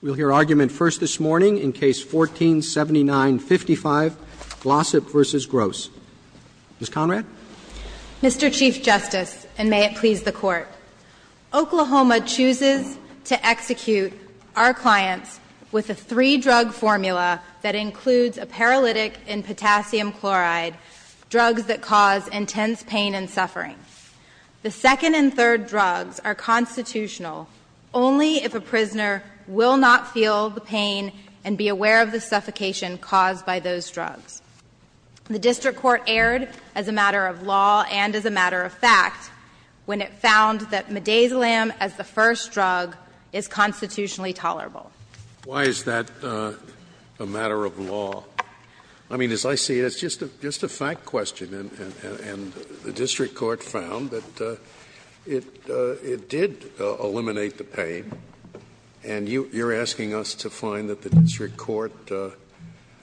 We'll hear argument first this morning in Case 14-7955, Glossip v. Gross. Ms. Conrad? Mr. Chief Justice, and may it please the Court, Oklahoma chooses to execute our clients with a three-drug formula that includes a paralytic in potassium chloride, drugs that cause intense pain and suffering. The second and third drugs are constitutional only if a prisoner will not feel the pain and be aware of the suffocation caused by those drugs. The district court erred as a matter of law and as a matter of fact when it found that midazolam as the first drug is constitutionally tolerable. Why is that a matter of law? I mean, as I see it, it's just a fact question, and the district court found that it did eliminate the pain, and you're asking us to find that the district court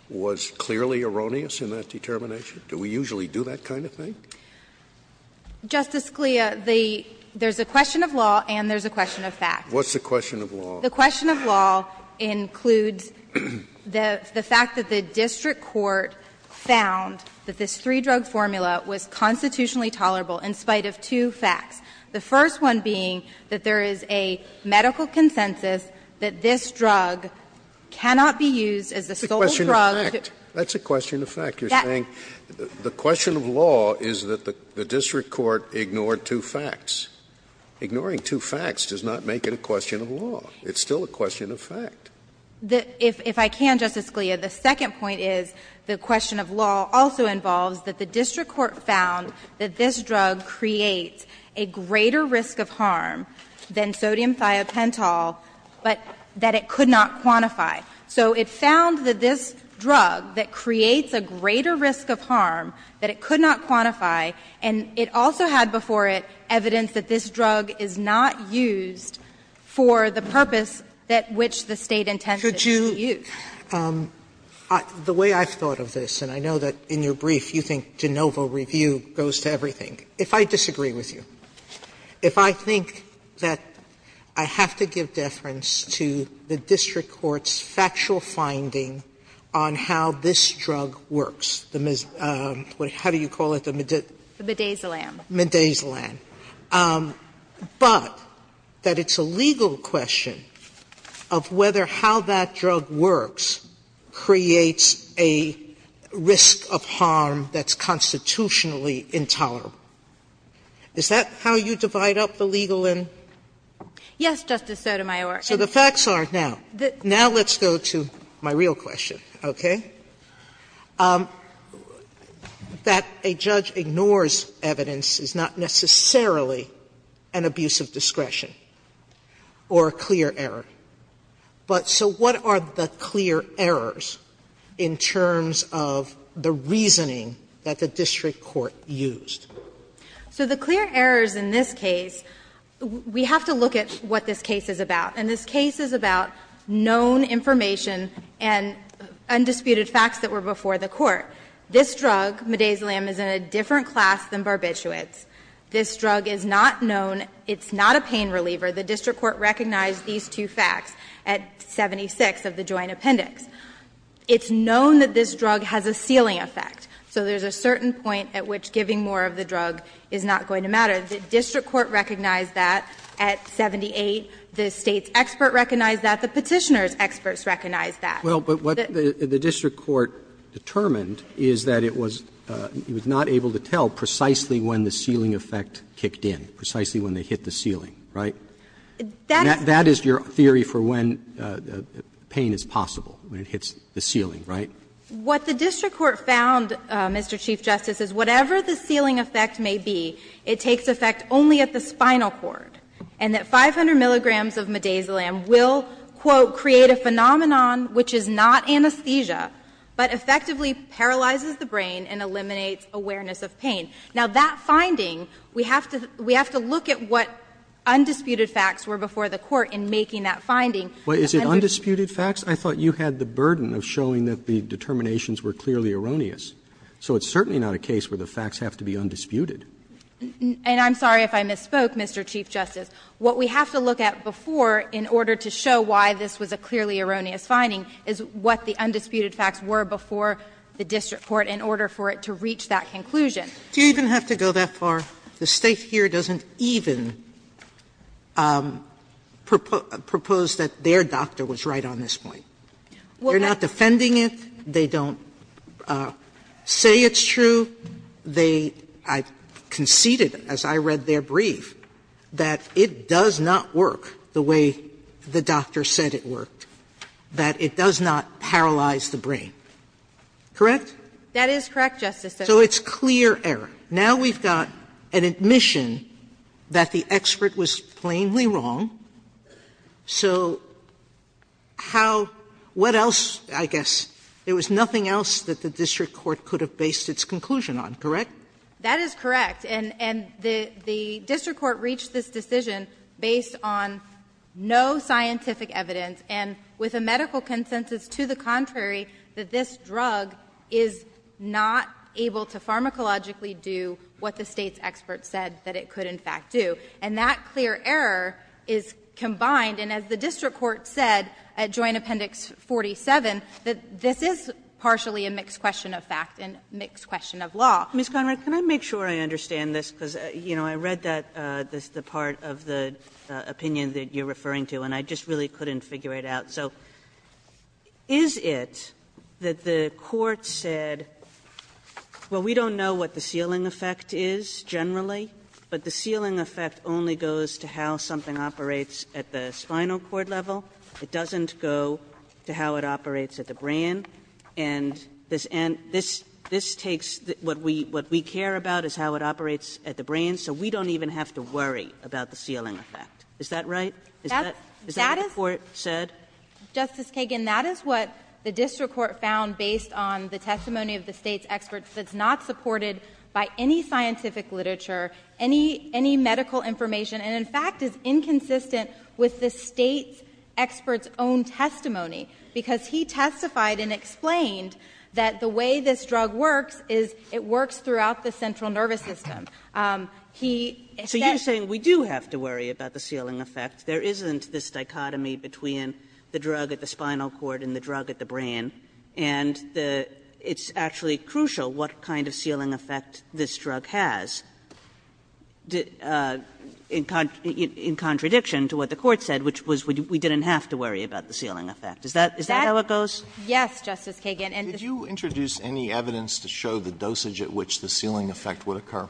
was clearly erroneous in that determination? Do we usually do that kind of thing? Justice Scalia, there's a question of law and there's a question of fact. What's the question of law? The question of law includes the fact that the district court found that this three-drug formula was constitutionally tolerable in spite of two facts, the first one being that there is a medical consensus that this drug cannot be used as a sole drug. That's a question of fact. You're saying the question of law is that the district court ignored two facts. Ignoring two facts does not make it a question of law. It's still a question of fact. If I can, Justice Scalia, the second point is the question of law also involves that the district court found that this drug creates a greater risk of harm than sodium thiopental, but that it could not quantify. So it found that this drug that creates a greater risk of harm that it could not quantify, and it also had before it evidence that this drug is not used for the purpose that which the State intended it to use. Sotomayor, the way I've thought of this, and I know that in your brief you think de novo review goes to everything. If I disagree with you, if I think that I have to give deference to the district court's factual finding on how this drug works, the mis – how do you call it? Madazolam. Madazolam. But that it's a legal question of whether how that drug works creates a risk of harm that's constitutionally intolerable. Is that how you divide up the legal and – Yes, Justice Sotomayor. So the facts are now – now let's go to my real question, okay? That a judge ignores evidence is not necessarily an abuse of discretion or a clear error, but so what are the clear errors in terms of the reasoning that the district court used? So the clear errors in this case, we have to look at what this case is about. And this case is about known information and undisputed facts that were before the court. This drug, Madazolam, is in a different class than barbiturates. This drug is not known. It's not a pain reliever. The district court recognized these two facts at 76 of the joint appendix. It's known that this drug has a sealing effect. So there's a certain point at which giving more of the drug is not going to matter. The district court recognized that at 78. The State's expert recognized that. The Petitioner's experts recognized that. Roberts, but what the district court determined is that it was not able to tell precisely when the sealing effect kicked in, precisely when they hit the ceiling, right? That is your theory for when pain is possible, when it hits the ceiling, right? What the district court found, Mr. Chief Justice, is whatever the sealing effect may be, it takes effect only at the spinal cord, and that 500 milligrams of Madazolam will, quote, "...create a phenomenon which is not anesthesia, but effectively paralyzes the brain and eliminates awareness of pain." Now, that finding, we have to look at what undisputed facts were before the court in making that finding. Roberts, but is it undisputed facts? I thought you had the burden of showing that the determinations were clearly erroneous. So it's certainly not a case where the facts have to be undisputed. And I'm sorry if I misspoke, Mr. Chief Justice. What we have to look at before in order to show why this was a clearly erroneous finding is what the undisputed facts were before the district court in order for it to reach that conclusion. Do you even have to go that far? The State here doesn't even propose that their doctor was right on this point. They're not defending it. They don't say it's true. They conceded, as I read their brief, that it does not work the way the doctor said it worked, that it does not paralyze the brain. Correct? That is correct, Justice Sotomayor. So it's clear error. Now we've got an admission that the expert was plainly wrong. So how — what else, I guess? There was nothing else that the district court could have based its conclusion on, correct? That is correct. And the district court reached this decision based on no scientific evidence and with a medical consensus to the contrary that this drug is not able to pharmacologically do what the State's expert said that it could in fact do. And that clear error is combined. And as the district court said at Joint Appendix 47, that this is partially a mixed question of fact and mixed question of law. Ms. Conrad, can I make sure I understand this? Because, you know, I read that, the part of the opinion that you're referring to, and I just really couldn't figure it out. So is it that the court said, well, we don't know what the sealing effect is generally, but the sealing effect only goes to how something operates at the spinal cord level? It doesn't go to how it operates at the brain? And this takes — what we care about is how it operates at the brain, so we don't even have to worry about the sealing effect. Is that right? Is that what the court said? Justice Kagan, that is what the district court found based on the testimony of the State's expert that's not supported by any scientific literature, any medical information, and in fact is inconsistent with the State's expert's own testimony, because he testified and explained that the way this drug works is it works throughout the central nervous system. He said — So you're saying we do have to worry about the sealing effect. There isn't this dichotomy between the drug at the spinal cord and the drug at the brain. And it's actually crucial what kind of sealing effect this drug has, in contradiction to what the court said, which was we didn't have to worry about the sealing effect. Is that how it goes? Yes, Justice Kagan. Did you introduce any evidence to show the dosage at which the sealing effect would occur?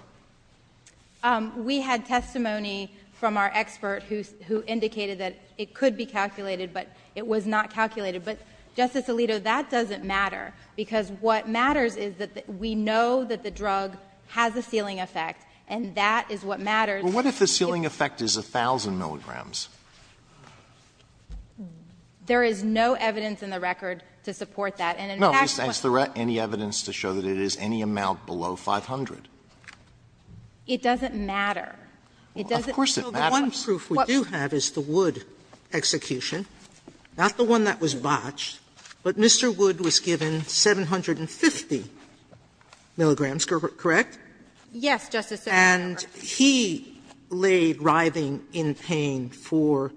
We had testimony from our expert who indicated that it could be calculated, but it was not calculated. But, Justice Alito, that doesn't matter, because what matters is that we know that the drug has a sealing effect, and that is what matters. Well, what if the sealing effect is 1,000 milligrams? There is no evidence in the record to support that. And in fact, what's the record? No. I just asked for any evidence to show that it is any amount below 500. It doesn't matter. It doesn't matter. Of course it matters. One proof we do have is the Wood execution, not the one that was botched, but Mr. Wood was given 750 milligrams, correct? Yes, Justice Sotomayor. And he laid writhing in pain for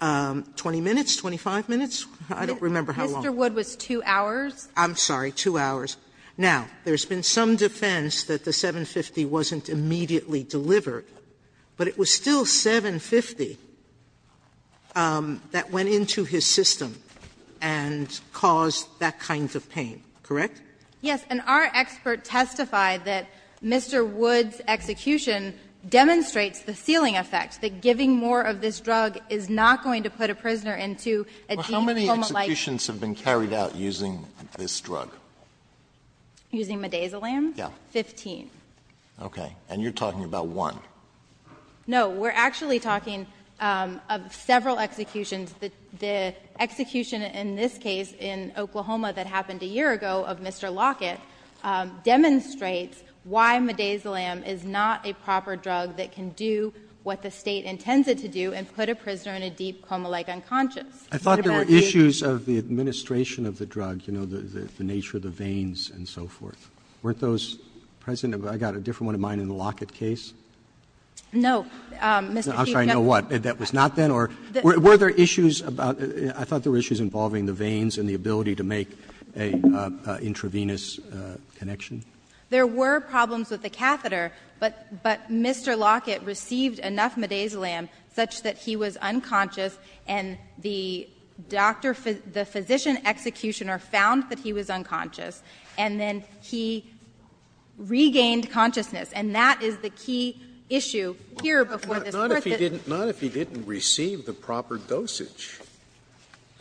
20 minutes, 25 minutes? I don't remember how long. Mr. Wood was 2 hours. I'm sorry, 2 hours. Now, there has been some defense that the 750 wasn't immediately delivered, but it was still 750 that went into his system and caused that kind of pain, correct? Yes. And our expert testified that Mr. Wood's execution demonstrates the sealing effect, that giving more of this drug is not going to put a prisoner into a deep coma-like state. How many executions have been carried out using this drug? Using midazolam? Yes. Fifteen. Okay. And you're talking about one. No. We're actually talking of several executions. The execution in this case in Oklahoma that happened a year ago of Mr. Lockett demonstrates why midazolam is not a proper drug that can do what the State intends it to do and put a prisoner in a deep coma-like unconscious. I thought there were issues of the administration of the drug, you know, the nature of the veins and so forth. Weren't those present? I've got a different one in mind in the Lockett case. No, Mr. Kagan. I'm sorry, no what? That was not then? Or were there issues about the — I thought there were issues involving the veins and the ability to make an intravenous connection. There were problems with the catheter, but Mr. Lockett received enough midazolam such that he was unconscious, and the doctor, the physician executioner found that he was unconscious, and then he regained consciousness. And that is the key issue here before this Court. Not if he didn't receive the proper dosage.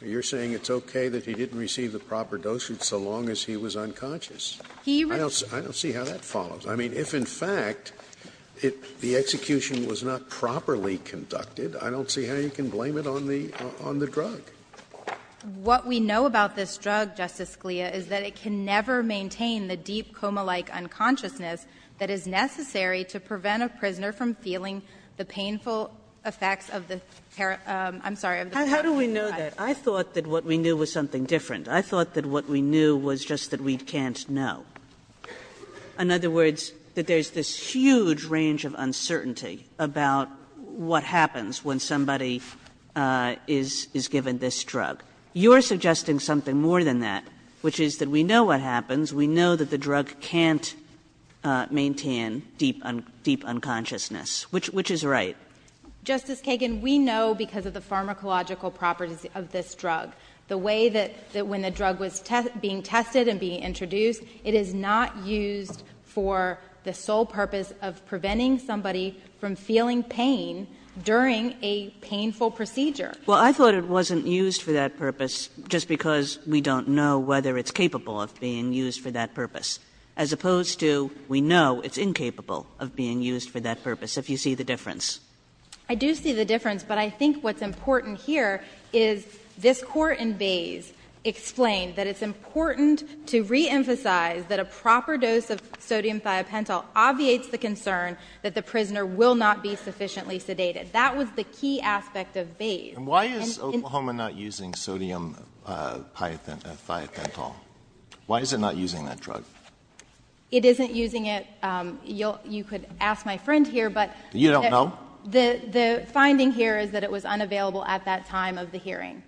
You're saying it's okay that he didn't receive the proper dosage so long as he was unconscious. I don't see how that follows. I mean, if in fact the execution was not properly conducted, I don't see how you can blame it on the drug. What we know about this drug, Justice Scalia, is that it can never maintain the deep coma-like unconsciousness that is necessary to prevent a prisoner from feeling the painful effects of the — I'm sorry, of the — How do we know that? I thought that what we knew was something different. I thought that what we knew was just that we can't know. In other words, that there's this huge range of uncertainty about what happens when somebody is given this drug. You're suggesting something more than that, which is that we know what happens. We know that the drug can't maintain deep unconsciousness, which is right. Justice Kagan, we know because of the pharmacological properties of this drug. The way that when the drug was being tested and being introduced, it is not used for the sole purpose of preventing somebody from feeling pain during a painful procedure. Well, I thought it wasn't used for that purpose just because we don't know whether it's capable of being used for that purpose, as opposed to we know it's incapable of being used for that purpose, if you see the difference. I do see the difference, but I think what's important here is this court in Bays explained that it's important to reemphasize that a proper dose of sodium thiopentol obviates the concern that the prisoner will not be sufficiently sedated. That was the key aspect of Bays. And why is Oklahoma not using sodium thiopentol? Why is it not using that drug? It isn't using it. You could ask my friend here, but — You don't know? The finding here is that it was unavailable at that time of the hearing.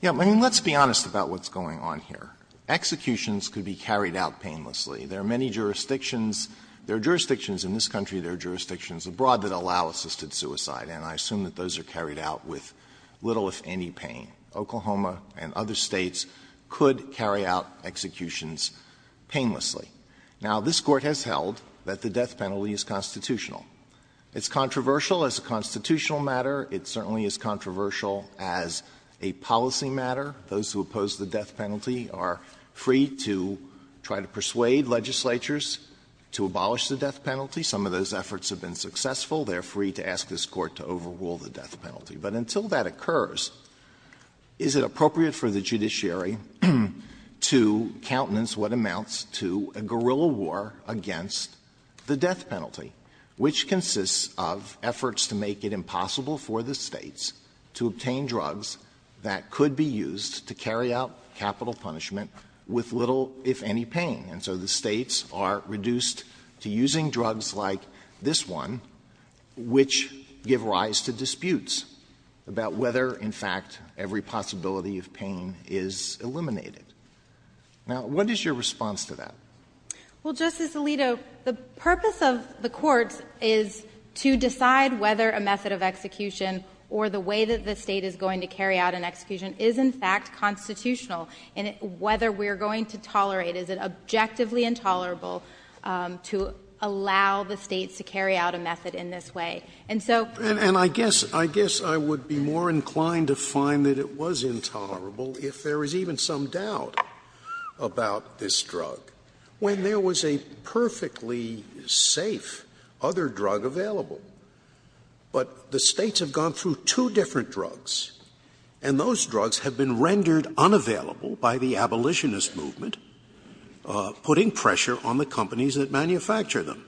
Yeah. I mean, let's be honest about what's going on here. Executions could be carried out painlessly. There are many jurisdictions. There are jurisdictions in this country, there are jurisdictions abroad that allow assisted suicide, and I assume that those are carried out with little, if any, pain. Oklahoma and other States could carry out executions painlessly. Now, this Court has held that the death penalty is constitutional. It's controversial as a constitutional matter. It certainly is controversial as a policy matter. Those who oppose the death penalty are free to try to persuade legislatures to abolish the death penalty. Some of those efforts have been successful. They are free to ask this Court to overrule the death penalty. But until that occurs, is it appropriate for the judiciary to countenance what amounts to a guerrilla war against the death penalty, which consists of efforts to make it impossible for the States to obtain drugs that could be used to carry out capital punishment with little, if any, pain? And so the States are reduced to using drugs like this one, which give rise to disputes about whether, in fact, every possibility of pain is eliminated. Now, what is your response to that? Well, Justice Alito, the purpose of the Court is to decide whether a method of execution or the way that the State is going to carry out an execution is, in fact, constitutional, and whether we are going to tolerate, is it objectively intolerable to allow the States to carry out a method in this way. And so the State is going to tolerate. And I guess I would be more inclined to find that it was intolerable if there is even some doubt about this drug, when there was a perfectly safe other drug available. But the States have gone through two different drugs, and those drugs have been rendered unavailable by the abolitionist movement, putting pressure on the companies that manufacture them,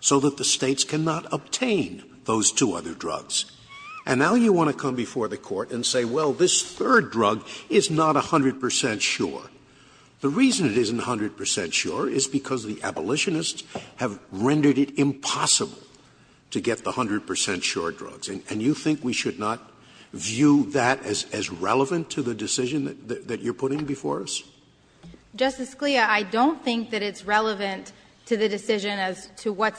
so that the States cannot obtain those two other drugs. And now you want to come before the Court and say, well, this third drug is not 100 percent sure. The reason it isn't 100 percent sure is because the abolitionists have rendered it impossible to get the 100 percent sure drugs. And you think we should not view that as relevant to the decision that you are putting before us? Justice Scalia, I don't think that it's relevant to the decision as to what's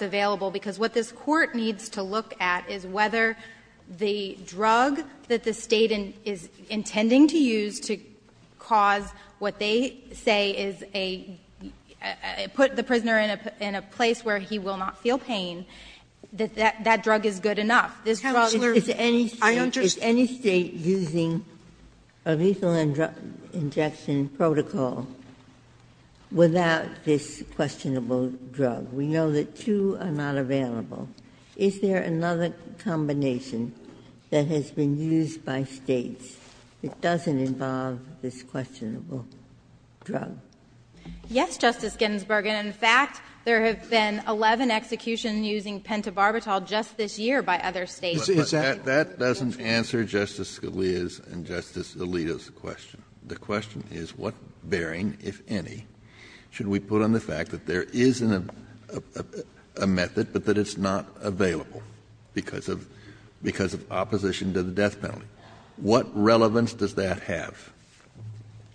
the drug that the State is intending to use to cause what they say is a put the prisoner in a place where he will not feel pain, that that drug is good enough. This drug is to any State using a lethal injection protocol without this questionable drug. We know that two are not available. Is there another combination that has been used by States that doesn't involve this questionable drug? Yes, Justice Ginsburg, and in fact, there have been 11 executions using pentobarbital just this year by other States. But that doesn't answer Justice Scalia's and Justice Alito's question. The question is what bearing, if any, should we put on the fact that there is a method, but that it's not available because of opposition to the death penalty? What relevance does that have?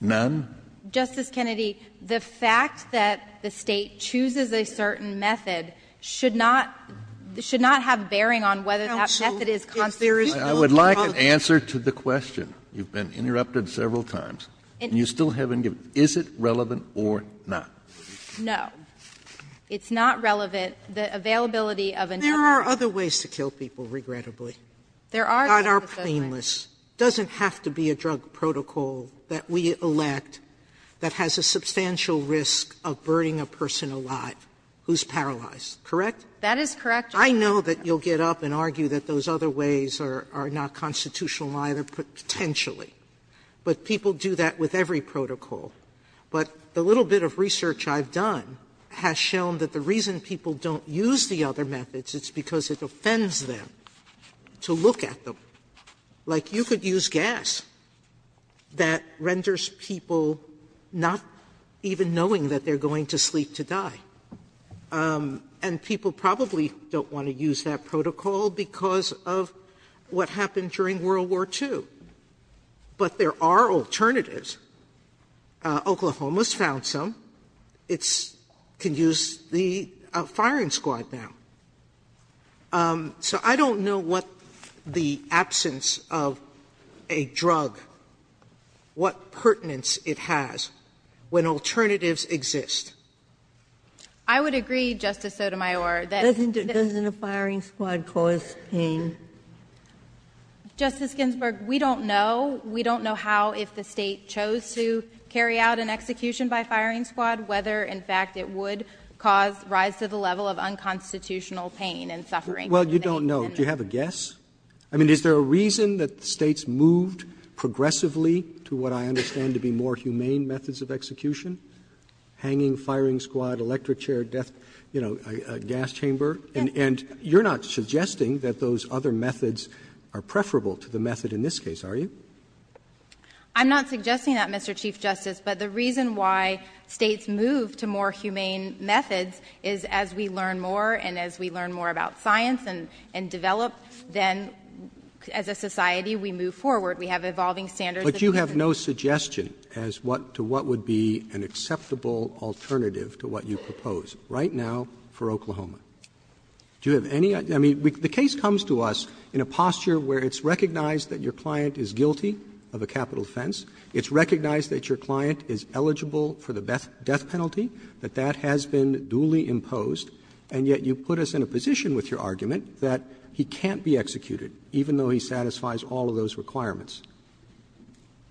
None? Justice Kennedy, the fact that the State chooses a certain method should not have bearing on whether that method is constitutional. I would like an answer to the question. You've been interrupted several times. And you still haven't given. Is it relevant or not? No. It's not relevant. The availability of a number of other methods. Sotomayor, there are other ways to kill people, regrettably, that are painless. It doesn't have to be a drug protocol that we elect that has a substantial risk of burning a person alive who's paralyzed, correct? That is correct, Justice Sotomayor. I know that you'll get up and argue that those other ways are not constitutional either, potentially. But people do that with every protocol. But the little bit of research I've done has shown that the reason people don't use the other methods is because it offends them to look at them. Like, you could use gas. That renders people not even knowing that they're going to sleep to die. And people probably don't want to use that protocol because of what happened during World War II. But there are alternatives. Oklahoma's found some. It's can use the firing squad now. So I don't know what the absence of a drug, what pertinence it has when alternatives exist. I would agree, Justice Sotomayor, that this is a firing squad cause pain. Justice Ginsburg, we don't know. We don't know how, if the State chose to carry out an execution by firing squad, whether, in fact, it would cause rise to the level of unconstitutional pain and suffering. Well, you don't know. Do you have a guess? I mean, is there a reason that States moved progressively to what I understand to be more humane methods of execution? Hanging, firing squad, electric chair, death, you know, gas chamber. And you're not suggesting that those other methods are preferable to the method in this case, are you? I'm not suggesting that, Mr. Chief Justice. But the reason why States moved to more humane methods is as we learn more and as we learn more about science and develop, then as a society, we move forward. We have evolving standards. But you have no suggestion as to what would be an acceptable alternative to what you propose right now for Oklahoma. Do you have any? I mean, the case comes to us in a posture where it's recognized that your client is guilty of a capital offense, it's recognized that your client is eligible for the death penalty, that that has been duly imposed, and yet you put us in a position with your argument that he can't be executed, even though he satisfies all of those requirements.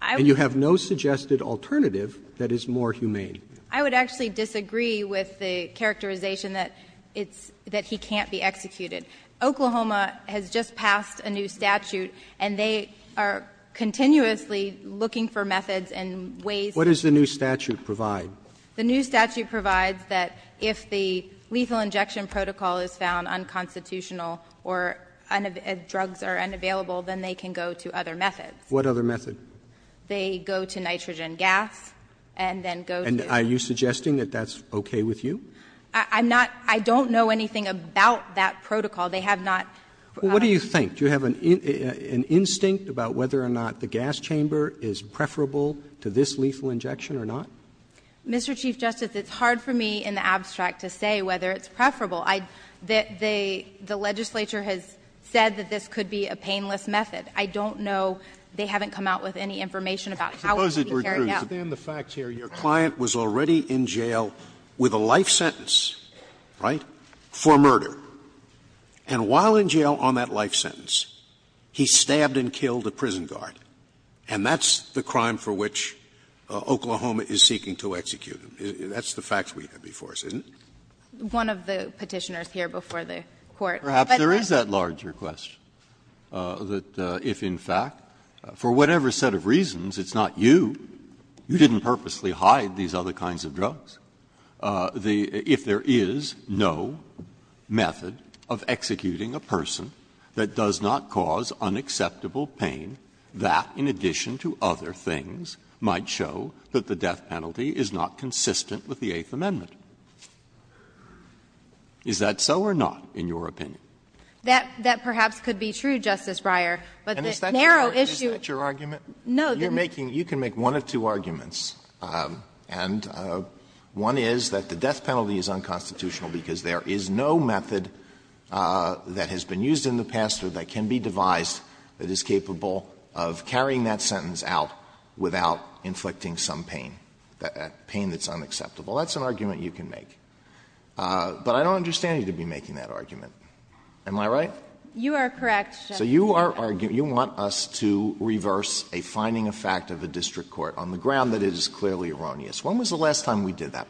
And you have no suggested alternative that is more humane. I would actually disagree with the characterization that it's — that he can't be executed. Oklahoma has just passed a new statute, and they are continuously looking for methods and ways to— What does the new statute provide? The new statute provides that if the lethal injection protocol is found unconstitutional or drugs are unavailable, then they can go to other methods. What other method? They go to nitrogen gas and then go to— And are you suggesting that that's okay with you? I'm not — I don't know anything about that protocol. They have not— Well, what do you think? Do you have an instinct about whether or not the gas chamber is preferable to this lethal injection or not? Mr. Chief Justice, it's hard for me, in the abstract, to say whether it's preferable. The legislature has said that this could be a painless method. I don't know. They haven't come out with any information about how it can be carried out. Scalia, it's true. But then the fact here, your client was already in jail with a life sentence, right, for murder. And while in jail on that life sentence, he stabbed and killed a prison guard. And that's the crime for which Oklahoma is seeking to execute him. That's the fact we have before us, isn't it? One of the Petitioners here before the Court. But the— It's not you. You didn't purposely hide these other kinds of drugs. The — if there is no method of executing a person that does not cause unacceptable pain, that, in addition to other things, might show that the death penalty is not consistent with the Eighth Amendment. Is that so or not, in your opinion? That — that perhaps could be true, Justice Breyer. But the narrow issue— And is that your argument? No. You're making — you can make one of two arguments. And one is that the death penalty is unconstitutional because there is no method that has been used in the past or that can be devised that is capable of carrying that sentence out without inflicting some pain, pain that's unacceptable. That's an argument you can make. But I don't understand you to be making that argument. Am I right? You are correct, Justice Alito. So you are arguing — you want us to reverse a finding of fact of a district court on the ground that it is clearly erroneous. When was the last time we did that?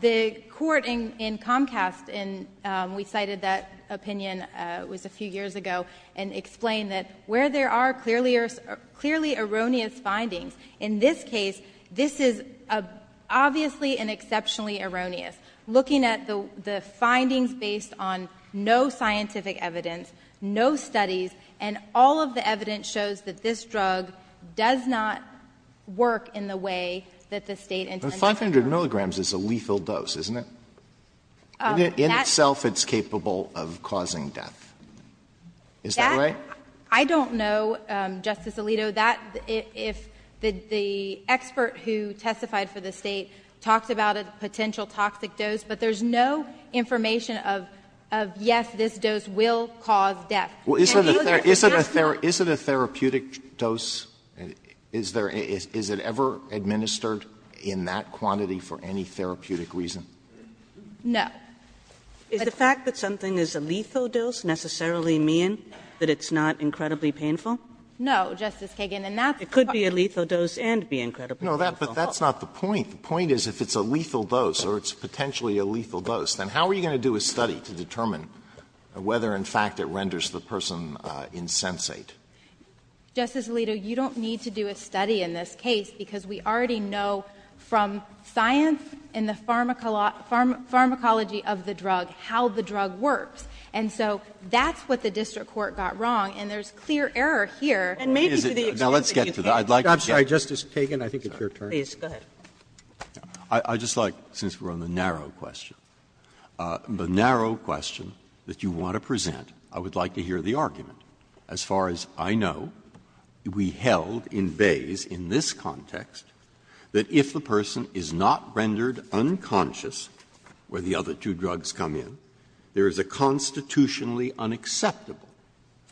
The court in Comcast, and we cited that opinion, it was a few years ago, and explained that where there are clearly — clearly erroneous findings, in this case, this is obviously and exceptionally erroneous. Looking at the findings based on no scientific evidence, no studies, and all of the evidence shows that this drug does not work in the way that the State intended to. But 500 milligrams is a lethal dose, isn't it? In itself, it's capable of causing death. Is that right? That — I don't know, Justice Alito. So that — if the expert who testified for the State talked about a potential toxic dose, but there's no information of, yes, this dose will cause death. Can you look at that? Is it a therapeutic dose? Is there — is it ever administered in that quantity for any therapeutic reason? No. Is the fact that something is a lethal dose necessarily mean that it's not incredibly painful? No, Justice Kagan, and that's part of the question. It could be a lethal dose and be incredibly painful. No, but that's not the point. The point is if it's a lethal dose, or it's potentially a lethal dose, then how are you going to do a study to determine whether, in fact, it renders the person insensate? Justice Alito, you don't need to do a study in this case, because we already know from science and the pharmacology of the drug how the drug works. And so that's what the district court got wrong, and there's clear error here. And maybe to the extent that you can't do it. I'm sorry, Justice Kagan, I think it's your turn. Please, go ahead. I'd just like, since we're on the narrow question, the narrow question that you want to present, I would like to hear the argument. As far as I know, we held in Bayes, in this context, that if the person is not rendered unconscious, where the other two drugs come in, there is a constitutionally unacceptable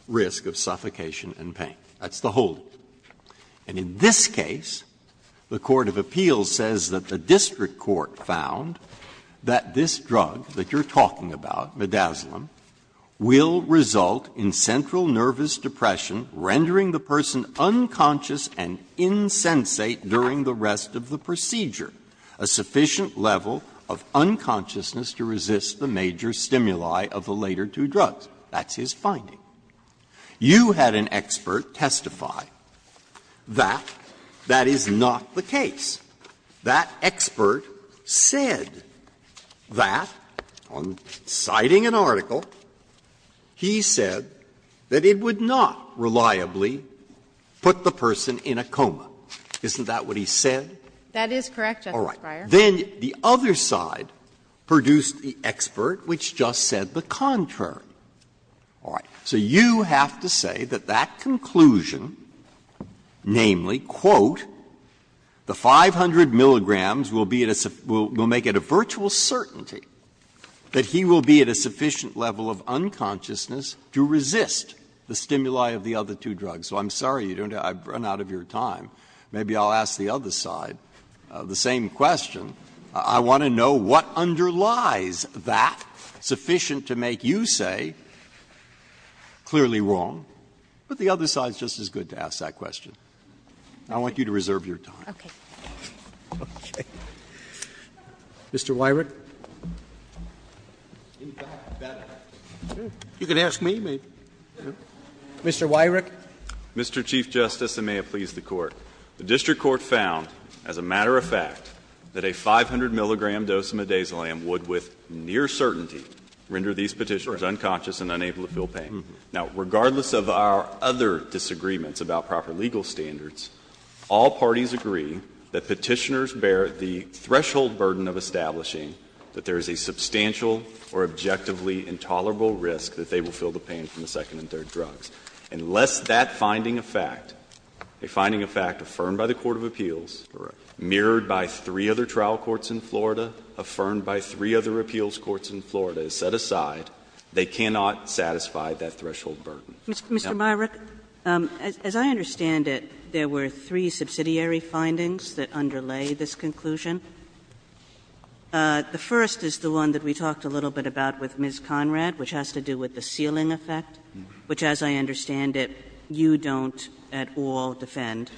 risk of suffocation and pain. That's the whole. And in this case, the court of appeals says that the district court found that this drug that you're talking about, midazolam, will result in central nervous depression, rendering the person unconscious and insensate during the rest of the procedure. A sufficient level of unconsciousness to resist the major stimuli of the later two drugs. That's his finding. You had an expert testify that that is not the case. That expert said that, on citing an article, he said that it would not reliably put the person in a coma. Isn't that what he said? That is correct, Justice Breyer. Breyer, then the other side produced the expert, which just said the contrary. All right. So you have to say that that conclusion, namely, quote, the 500 milligrams will be at a we'll make it a virtual certainty that he will be at a sufficient level of unconsciousness to resist the stimuli of the other two drugs. So I'm sorry, I've run out of your time. Maybe I'll ask the other side the same question. I want to know what underlies that sufficient to make you say, clearly wrong. But the other side is just as good to ask that question. I want you to reserve your time. Okay. Mr. Weyrich. You can ask me, maybe. Mr. Weyrich. Mr. Chief Justice, and may it please the Court. The district court found, as a matter of fact, that a 500 milligram dose of midazolam would, with near certainty, render these Petitioners unconscious and unable to feel pain. Now, regardless of our other disagreements about proper legal standards, all parties agree that Petitioners bear the threshold burden of establishing that there is a substantial or objectively intolerable risk that they will feel the pain from the second and third drugs. Unless that finding of fact, a finding of fact affirmed by the court of appeals, mirrored by three other trial courts in Florida, affirmed by three other appeals courts in Florida, is set aside, they cannot satisfy that threshold burden. Mr. Weyrich, as I understand it, there were three subsidiary findings that underlay this conclusion. The first is the one that we talked a little bit about with Ms. Conrad, which has to do with the fact that, as I understand it, you don't at all defend.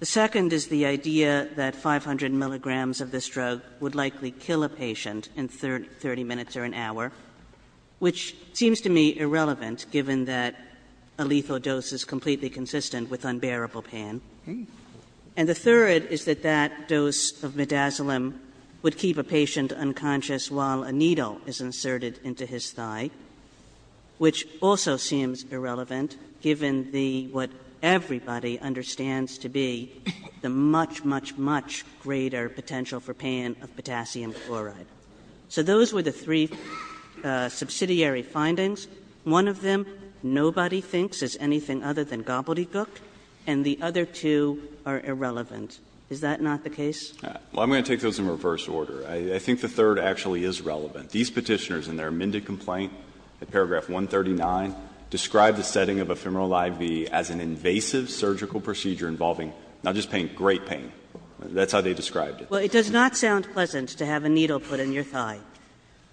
The second is the idea that 500 milligrams of this drug would likely kill a patient in 30 minutes or an hour, which seems to me irrelevant, given that a lethal dose is completely consistent with unbearable pain. And the third is that that dose of midazolam would keep a patient unconscious while a needle is inserted into his thigh. Which also seems irrelevant, given the, what everybody understands to be, the much, much, much greater potential for pain of potassium chloride. So those were the three subsidiary findings. One of them nobody thinks is anything other than gobbledygook, and the other two are irrelevant. Is that not the case? Well, I'm going to take those in reverse order. I think the third actually is relevant. These Petitioners, in their amended complaint at paragraph 139, describe the setting of ephemeral IV as an invasive surgical procedure involving not just pain, great pain. That's how they described it. Well, it does not sound pleasant to have a needle put in your thigh.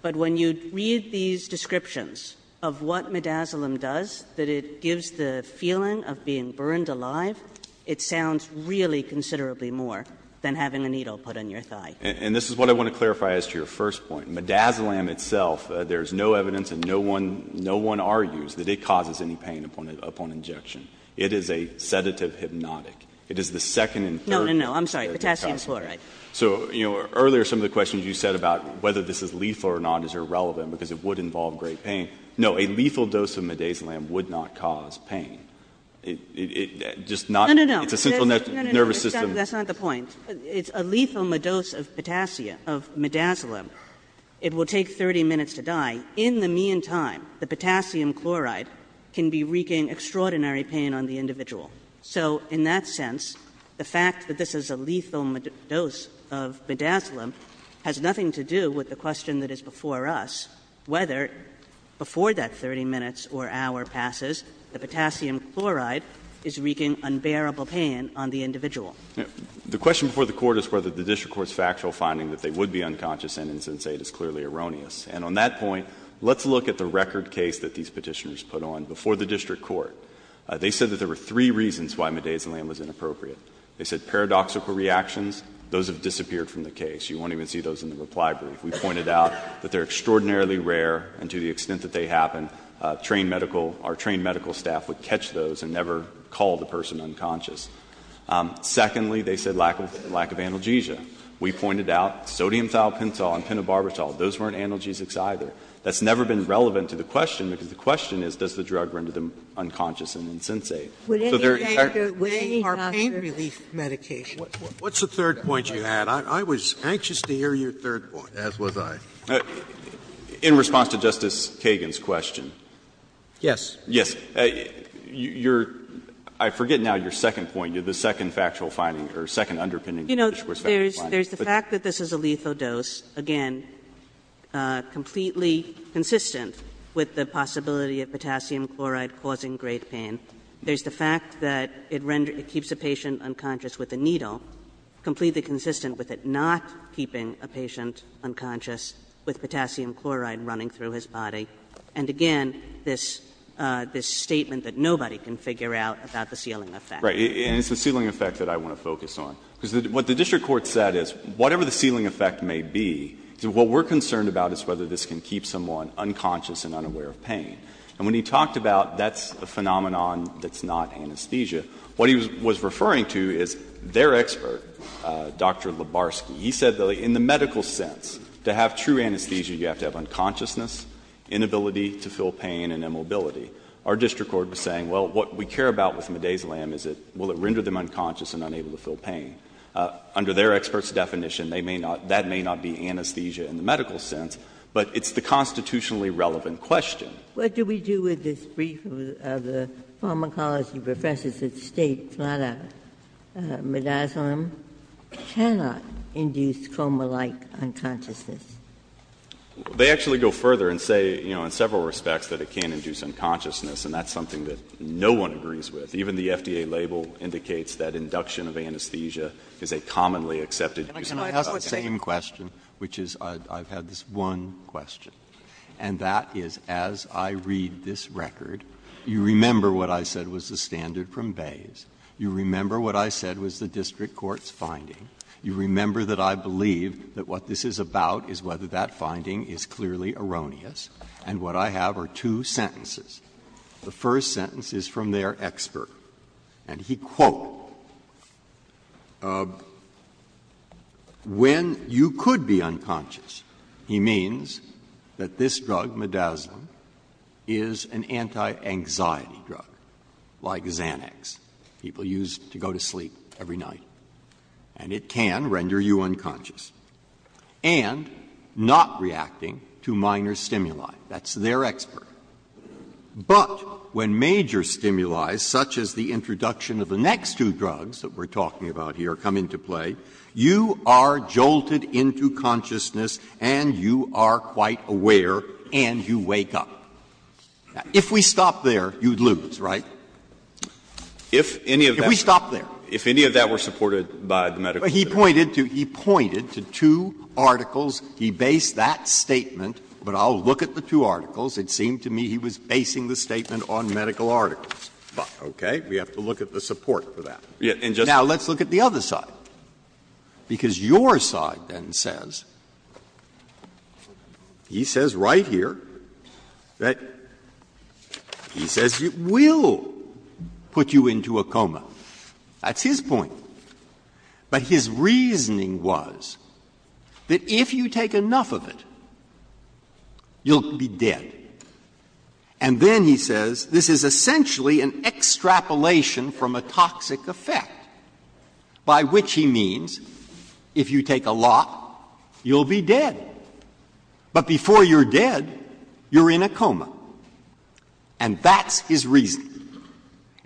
But when you read these descriptions of what midazolam does, that it gives the feeling of being burned alive, it sounds really considerably more than having a needle put in your thigh. And this is what I want to clarify as to your first point. Midazolam itself, there is no evidence and no one argues that it causes any pain upon injection. It is a sedative hypnotic. It is the second and third. No, no, no. I'm sorry. Potassium chloride. So, you know, earlier some of the questions you said about whether this is lethal or not is irrelevant because it would involve great pain. No, a lethal dose of midazolam would not cause pain. It just not. No, no, no. It's a central nervous system. That's not the point. It's a lethal dose of potassium, of midazolam. It will take 30 minutes to die. In the meantime, the potassium chloride can be wreaking extraordinary pain on the individual. So in that sense, the fact that this is a lethal dose of midazolam has nothing to do with the question that is before us whether, before that 30 minutes or hour passes, the potassium chloride is wreaking unbearable pain on the individual. The question before the Court is whether the district court's factual finding that they would be unconscious and insensate is clearly erroneous. And on that point, let's look at the record case that these Petitioners put on before the district court. They said that there were three reasons why midazolam was inappropriate. They said paradoxical reactions, those have disappeared from the case. You won't even see those in the reply brief. We pointed out that they're extraordinarily rare and to the extent that they happen, trained medical, our trained medical staff would catch those and never call the person unconscious. Secondly, they said lack of analgesia. We pointed out sodium thiopental and penobarbital, those weren't analgesics either. That's never been relevant to the question, because the question is does the drug render them unconscious and insensate. Sotomayor, our pain relief medication. Sotomayor, what's the third point you had? I was anxious to hear your third point. As was I. In response to Justice Kagan's question. Yes. Yes. I forget now your second point, your second factual finding, or second underpinning factual finding. You know, there's the fact that this is a lethal dose, again, completely consistent with the possibility of potassium chloride causing great pain. There's the fact that it renders the patient unconscious with a needle, completely consistent with it not keeping a patient unconscious with potassium chloride running through his body. And again, this statement that nobody can figure out about the sealing effect. Right. And it's the sealing effect that I want to focus on. Because what the district court said is whatever the sealing effect may be, what we're concerned about is whether this can keep someone unconscious and unaware of pain. And when he talked about that's a phenomenon that's not anesthesia, what he was referring to is their expert, Dr. Lebarski, he said that in the medical sense, to have true anesthesia you have to have unconsciousness, inability to feel pain and immobility. Our district court was saying, well, what we care about with midazolam is will it render them unconscious and unable to feel pain. Under their expert's definition, they may not, that may not be anesthesia in the medical sense, but it's the constitutionally relevant question. Ginsburg. What do we do with this brief of the pharmacology professors that state flat-out midazolam cannot induce coma-like unconsciousness? They actually go further and say, you know, in several respects that it can induce unconsciousness, and that's something that no one agrees with. Even the FDA label indicates that induction of anesthesia is a commonly accepted use of medication. Breyer. Can I ask the same question, which is I've had this one question, and that is, as I read this record, you remember what I said was the standard from Bayes, you remember what I said was the district court's finding, you remember that I believe that what this is about is whether that finding is clearly erroneous, and what I have are two sentences. The first sentence is from their expert, and he quote, when you could be unconscious, he means that this drug, midazolam, is an anti-anxiety drug, like Xanax, people use to go to sleep every night, and it can render you unconscious. And not reacting to minor stimuli. That's their expert. But when major stimuli, such as the introduction of the next two drugs that we're talking about here come into play, you are jolted into consciousness and you are quite aware and you wake up. If we stop there, you'd lose, right? If we stop there. If any of that were supported by the medical system. Breyer. He pointed to two articles. He based that statement, but I'll look at the two articles. It seemed to me he was basing the statement on medical articles. Okay? We have to look at the support for that. Now, let's look at the other side, because your side then says, he says right here that he says it will put you into a coma. That's his point. But his reasoning was that if you take enough of it, you'll be dead. And then he says this is essentially an extrapolation from a toxic effect, by which he means if you take a lot, you'll be dead. But before you're dead, you're in a coma. And that's his reasoning.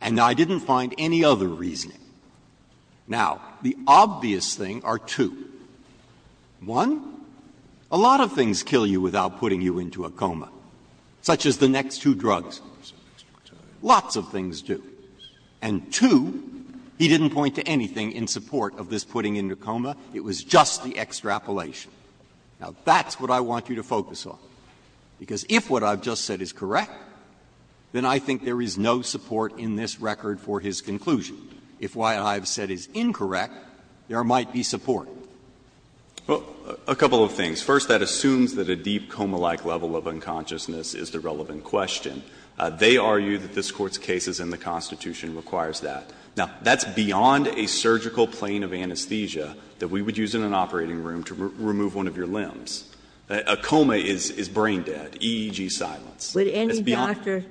And I didn't find any other reasoning. Now, the obvious thing are two. One, a lot of things kill you without putting you into a coma, such as the next two drugs. Lots of things do. And two, he didn't point to anything in support of this putting you into a coma. It was just the extrapolation. Now, that's what I want you to focus on, because if what I've just said is correct, then I think there is no support in this record for his conclusion. If what I've said is incorrect, there might be support. Well, a couple of things. First, that assumes that a deep coma-like level of unconsciousness is the relevant question. They argue that this Court's case is in the Constitution and requires that. Now, that's beyond a surgical plane of anesthesia that we would use in an operating room to remove one of your limbs. A coma is brain dead, EEG silence. Would any doctor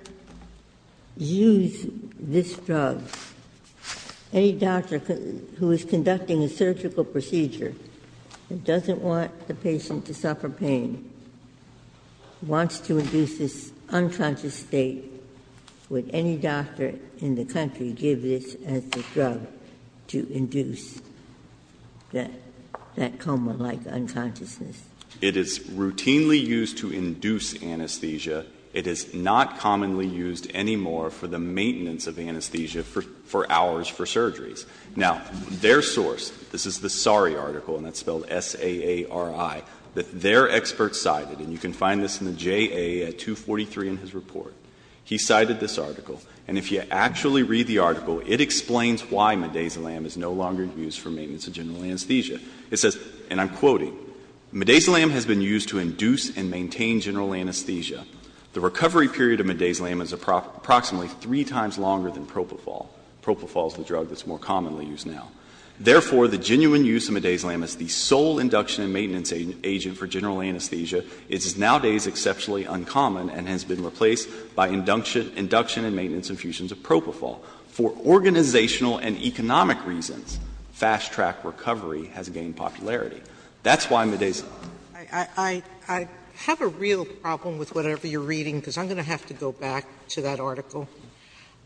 use this drug? Any doctor who is conducting a surgical procedure, who doesn't want the patient to suffer pain, wants to induce this unconscious state, would any doctor in the country give this as the drug to induce that coma-like unconsciousness? It is routinely used to induce anesthesia. It is not commonly used anymore for the maintenance of anesthesia for hours for surgeries. Now, their source, this is the Sari article, and that's spelled S-A-A-R-I, that their expert cited, and you can find this in the JA at 243 in his report, he cited this article. And if you actually read the article, it explains why midazolam is no longer used for maintenance of general anesthesia. It says, and I'm quoting, "... midazolam has been used to induce and maintain general anesthesia. The recovery period of midazolam is approximately three times longer than propofol. Propofol is the drug that's more commonly used now. Therefore, the genuine use of midazolam as the sole induction and maintenance agent for general anesthesia is nowadays exceptionally uncommon and has been replaced by induction and maintenance infusions of propofol. For organizational and economic reasons, fast-track recovery has gained popularity. That's why midazolam. Sotomayor, I have a real problem with whatever you're reading, because I'm going to have to go back to that article.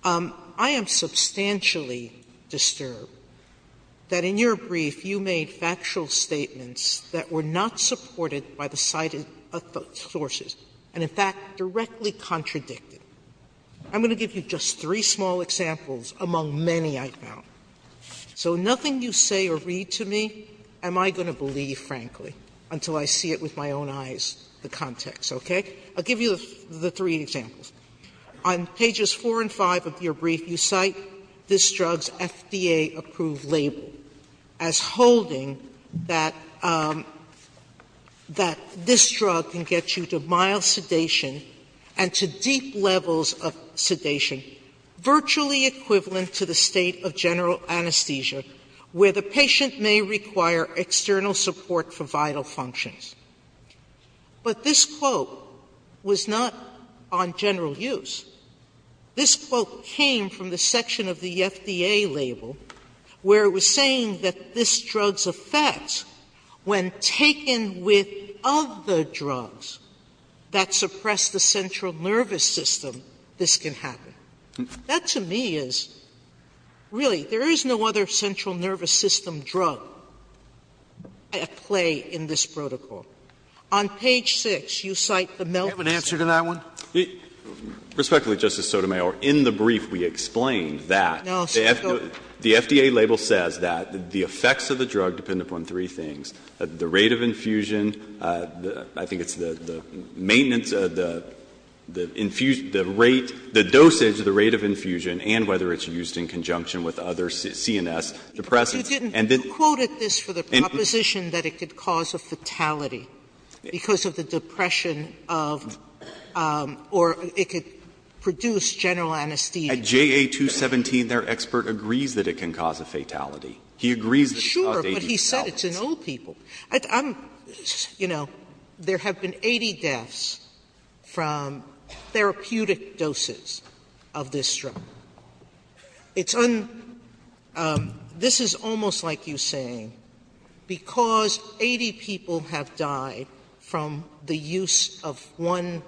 I am substantially disturbed that in your brief you made factual statements that were not supported by the cited sources, and in fact, directly contradicted. I'm going to give you just three small examples among many I found. So nothing you say or read to me am I going to believe, frankly, until I see it with my own eyes, the context, okay? I'll give you the three examples. On pages 4 and 5 of your brief, you cite this drug's FDA-approved label as holding that this drug can get you to mild sedation and to deep levels of sedation, virtually equivalent to the state of general anesthesia, where the patient may require external support for vital functions. But this quote was not on general use. This quote came from the section of the FDA label where it was saying that this drug's effects, when taken with other drugs that suppress the central nervous system, this can happen. That to me is really, there is no other central nervous system drug at play in this protocol. On page 6, you cite the milk. Breyer, have an answer to that one? Respectfully, Justice Sotomayor, in the brief we explained that the FDA label says that the effects of the drug depend upon three things, the rate of infusion, I think it's the maintenance of the infusion, the rate, the dosage, the rate of infusion, and whether it's used in conjunction with other CNS depressants. And then you quoted this for the proposition that it could cause a fatality because of the depression of, or it could produce general anesthesia. At JA 217, their expert agrees that it can cause a fatality. He agrees that it can cause a fatality. Sotomayor, but he said it's in old people. I'm, you know, there have been 80 deaths from therapeutic doses of this drug. It's un, this is almost like you saying because 80 people have died from the use of one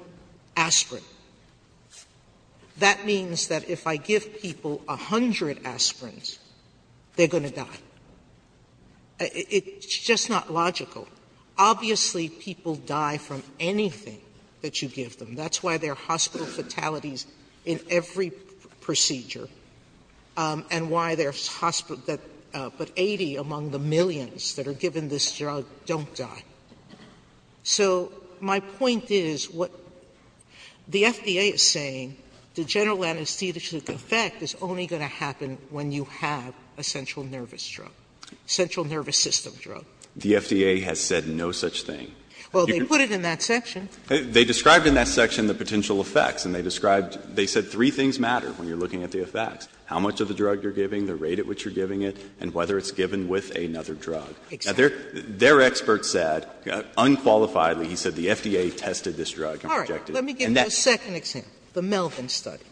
aspirin, that means that if I give people 100 aspirins, they're going to die. It's just not logical. Obviously, people die from anything that you give them. That's why there are hospital fatalities in every procedure, and why there's hospital that, but 80 among the millions that are given this drug don't die. So my point is what the FDA is saying, the general anesthetic effect is only going to happen when you have a central nervous drug, central nervous system drug. The FDA has said no such thing. Well, they put it in that section. They described in that section the potential effects, and they described, they said three things matter when you're looking at the effects, how much of the drug you're giving, the rate at which you're giving it, and whether it's given with another drug. Exactly. Their expert said, unqualifiedly, he said the FDA tested this drug and projected it. Sotomayor, let me give you a second example, the Melvin study.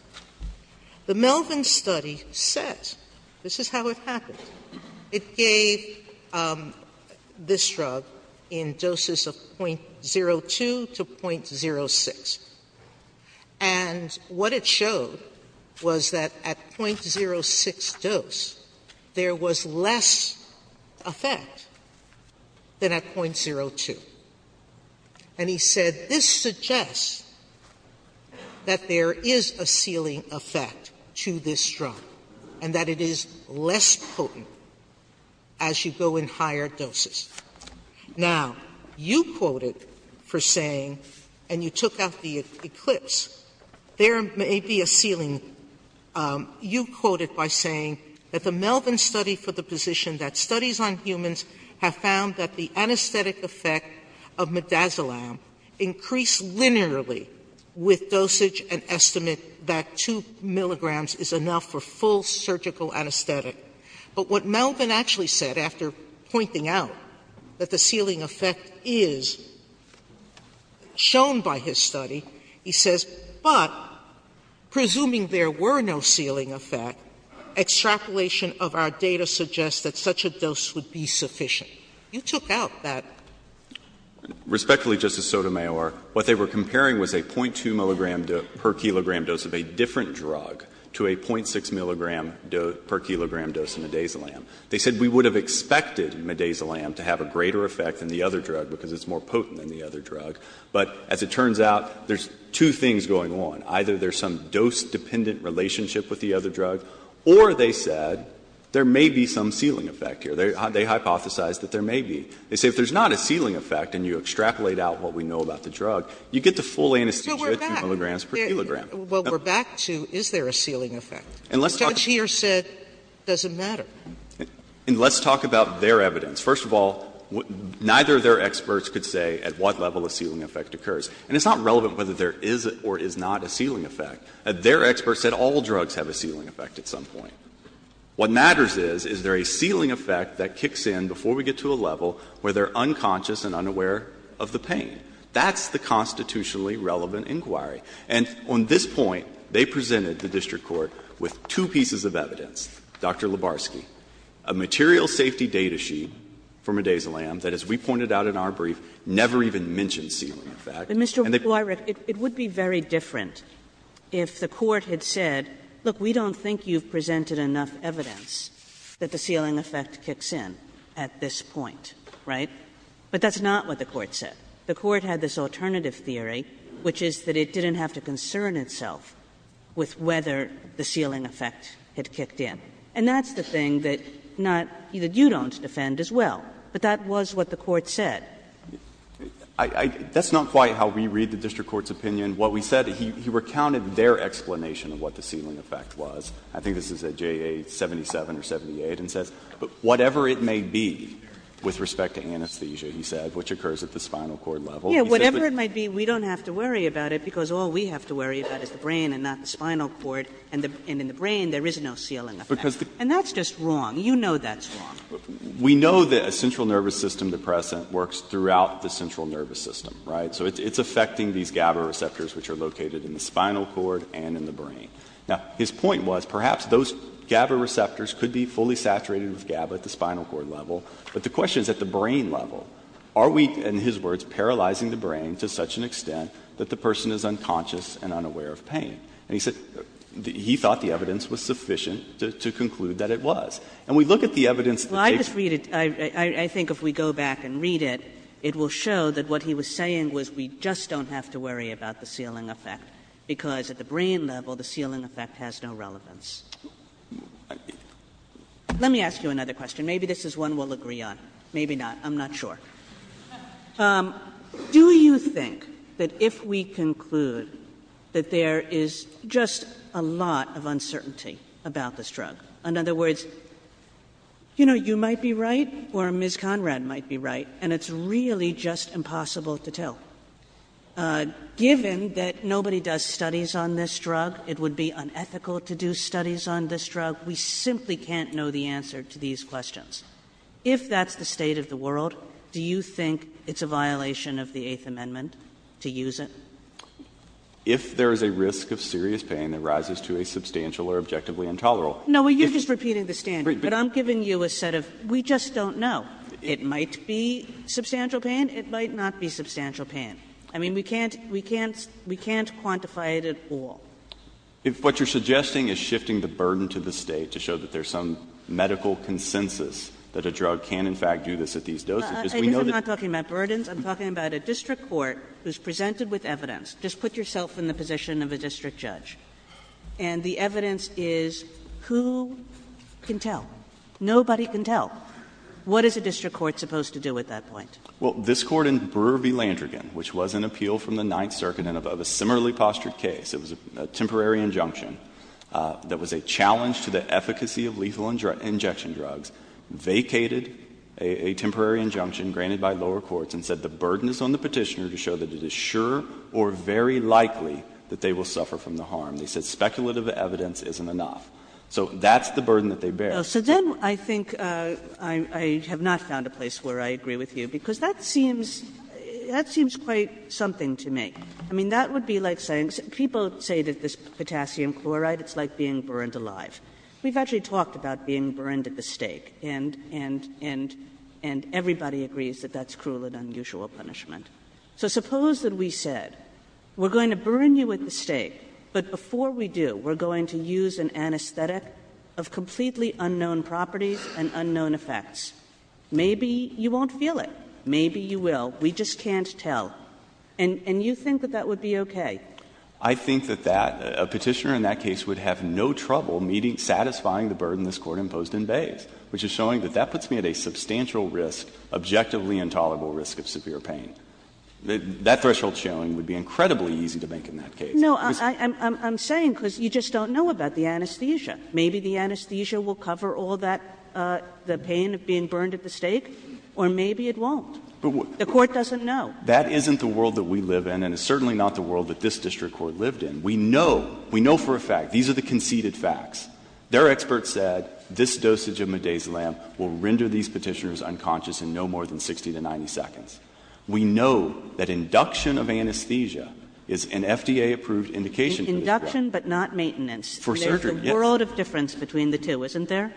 The Melvin study says, this is how it happened, it gave this drug in doses of 0.02 to 0.06. And what it showed was that at 0.06 dose, there was less effect than at 0.02. And he said, this suggests that there is a ceiling effect to this drug, and that it is less potent as you go in higher doses. Now, you quoted for saying, and you took out the eclipse, there may be a ceiling you quoted by saying that the Melvin study for the position that studies on humans have found that the anesthetic effect of midazolam increased linearly with dosage and estimate that 2 milligrams is enough for full surgical anesthetic. But what Melvin actually said after pointing out that the ceiling effect is shown by his study, he says, but presuming there were no ceiling effect, extrapolation of our data suggests that such a dose would be sufficient. You took out that. Respectfully, Justice Sotomayor, what they were comparing was a 0.2 milligram per kilogram dose of a different drug to a 0.6 milligram per kilogram dose of midazolam. They said we would have expected midazolam to have a greater effect than the other drug because it's more potent than the other drug. But as it turns out, there's two things going on. Either there's some dose-dependent relationship with the other drug, or they said there may be some ceiling effect here. They hypothesized that there may be. They say if there's not a ceiling effect and you extrapolate out what we know about the drug, you get the full anesthesia at 2 milligrams per kilogram. Sotomayor, what we're back to, is there a ceiling effect? Judge here said it doesn't matter. And let's talk about their evidence. First of all, neither of their experts could say at what level a ceiling effect occurs. And it's not relevant whether there is or is not a ceiling effect. Their experts said all drugs have a ceiling effect at some point. What matters is, is there a ceiling effect that kicks in before we get to a level where they're unconscious and unaware of the pain? That's the constitutionally relevant inquiry. And on this point, they presented the district court with two pieces of evidence, Dr. Lebarski, a material safety data sheet from Edazolam that, as we pointed out in our brief, never even mentioned ceiling effect. And they've Kagan, it would be very different if the Court had said, look, we don't think you've presented enough evidence that the ceiling effect kicks in at this point, right? But that's not what the Court said. The Court had this alternative theory, which is that it didn't have to concern itself with whether the ceiling effect had kicked in. And that's the thing that not — that you don't defend as well. But that was what the Court said. I — that's not quite how we read the district court's opinion. What we said, he recounted their explanation of what the ceiling effect was. I think this is at JA 77 or 78, and says, but whatever it may be with respect to anesthesia, he said, which occurs at the spinal cord level. He said that the ceiling effect doesn't affect the brain, and that's just wrong. You know that's wrong. We know that a central nervous system depressant works throughout the central nervous system, right? So it's affecting these GABA receptors, which are located in the spinal cord and in the brain. Now, his point was, perhaps those GABA receptors could be fully saturated with GABA at the spinal cord level. But the question is, at the brain level, are we, in his words, paralyzing the brain to such an extent that the person is unconscious and unaware of pain? And he said he thought the evidence was sufficient to conclude that it was. And we look at the evidence that takes place. Kagan. Kagan. I think if we go back and read it, it will show that what he was saying was we just don't have to worry about the ceiling effect, because at the brain level, the ceiling effect has no relevance. Let me ask you another question. Maybe this is one we'll agree on. Maybe not. I'm not sure. Do you think that if we conclude that there is just a lot of uncertainty about this drug, in other words, you know, you might be right or Ms. Conrad might be right, and it's really just impossible to tell. Given that nobody does studies on this drug, it would be unethical to do studies on this drug. We simply can't know the answer to these questions. If that's the state of the world, do you think it's a violation of the Eighth Amendment to use it? If there is a risk of serious pain that rises to a substantial or objectively intolerable. No, you're just repeating the standard. But I'm giving you a set of we just don't know. It might be substantial pain. It might not be substantial pain. I mean, we can't quantify it at all. If what you're suggesting is shifting the burden to the State to show that there is some medical consensus that a drug can in fact do this at these doses, because we know that. I'm not talking about burdens. I'm talking about a district court who is presented with evidence. Just put yourself in the position of a district judge, and the evidence is who can tell? Nobody can tell. What is a district court supposed to do at that point? Well, this Court in Brewer v. Landrigan, which was an appeal from the Ninth Circuit in a similarly postured case, it was a temporary injunction that was a challenge to the efficacy of lethal injection drugs, vacated a temporary injunction granted by lower courts and said the burden is on the Petitioner to show that it is sure or very likely that they will suffer from the harm. They said speculative evidence isn't enough. So that's the burden that they bear. Kagan. So then I think I have not found a place where I agree with you, because that seems quite something to me. I mean, that would be like saying — people say that this potassium chloride, it's like being burned alive. We've actually talked about being burned at the stake, and everybody agrees that that's cruel and unusual punishment. So suppose that we said, we're going to burn you at the stake, but before we do, we're going to use an anesthetic of completely unknown properties and unknown effects. Maybe you won't feel it. Maybe you will. We just can't tell. And you think that that would be okay? I think that that — a Petitioner in that case would have no trouble meeting — satisfying the burden this Court imposed in Bays, which is showing that that puts me at a substantial risk, objectively intolerable risk of severe pain. That threshold showing would be incredibly easy to make in that case. No, I'm saying because you just don't know about the anesthesia. Maybe the anesthesia will cover all that — the pain of being burned at the stake, or maybe it won't. The Court doesn't know. That isn't the world that we live in, and it's certainly not the world that this district court lived in. We know — we know for a fact. These are the conceded facts. Their experts said this dosage of midazolam will render these Petitioners unconscious in no more than 60 to 90 seconds. We know that induction of anesthesia is an FDA-approved indication for this Court. Induction, but not maintenance. For surgery, yes. There's a world of difference between the two, isn't there?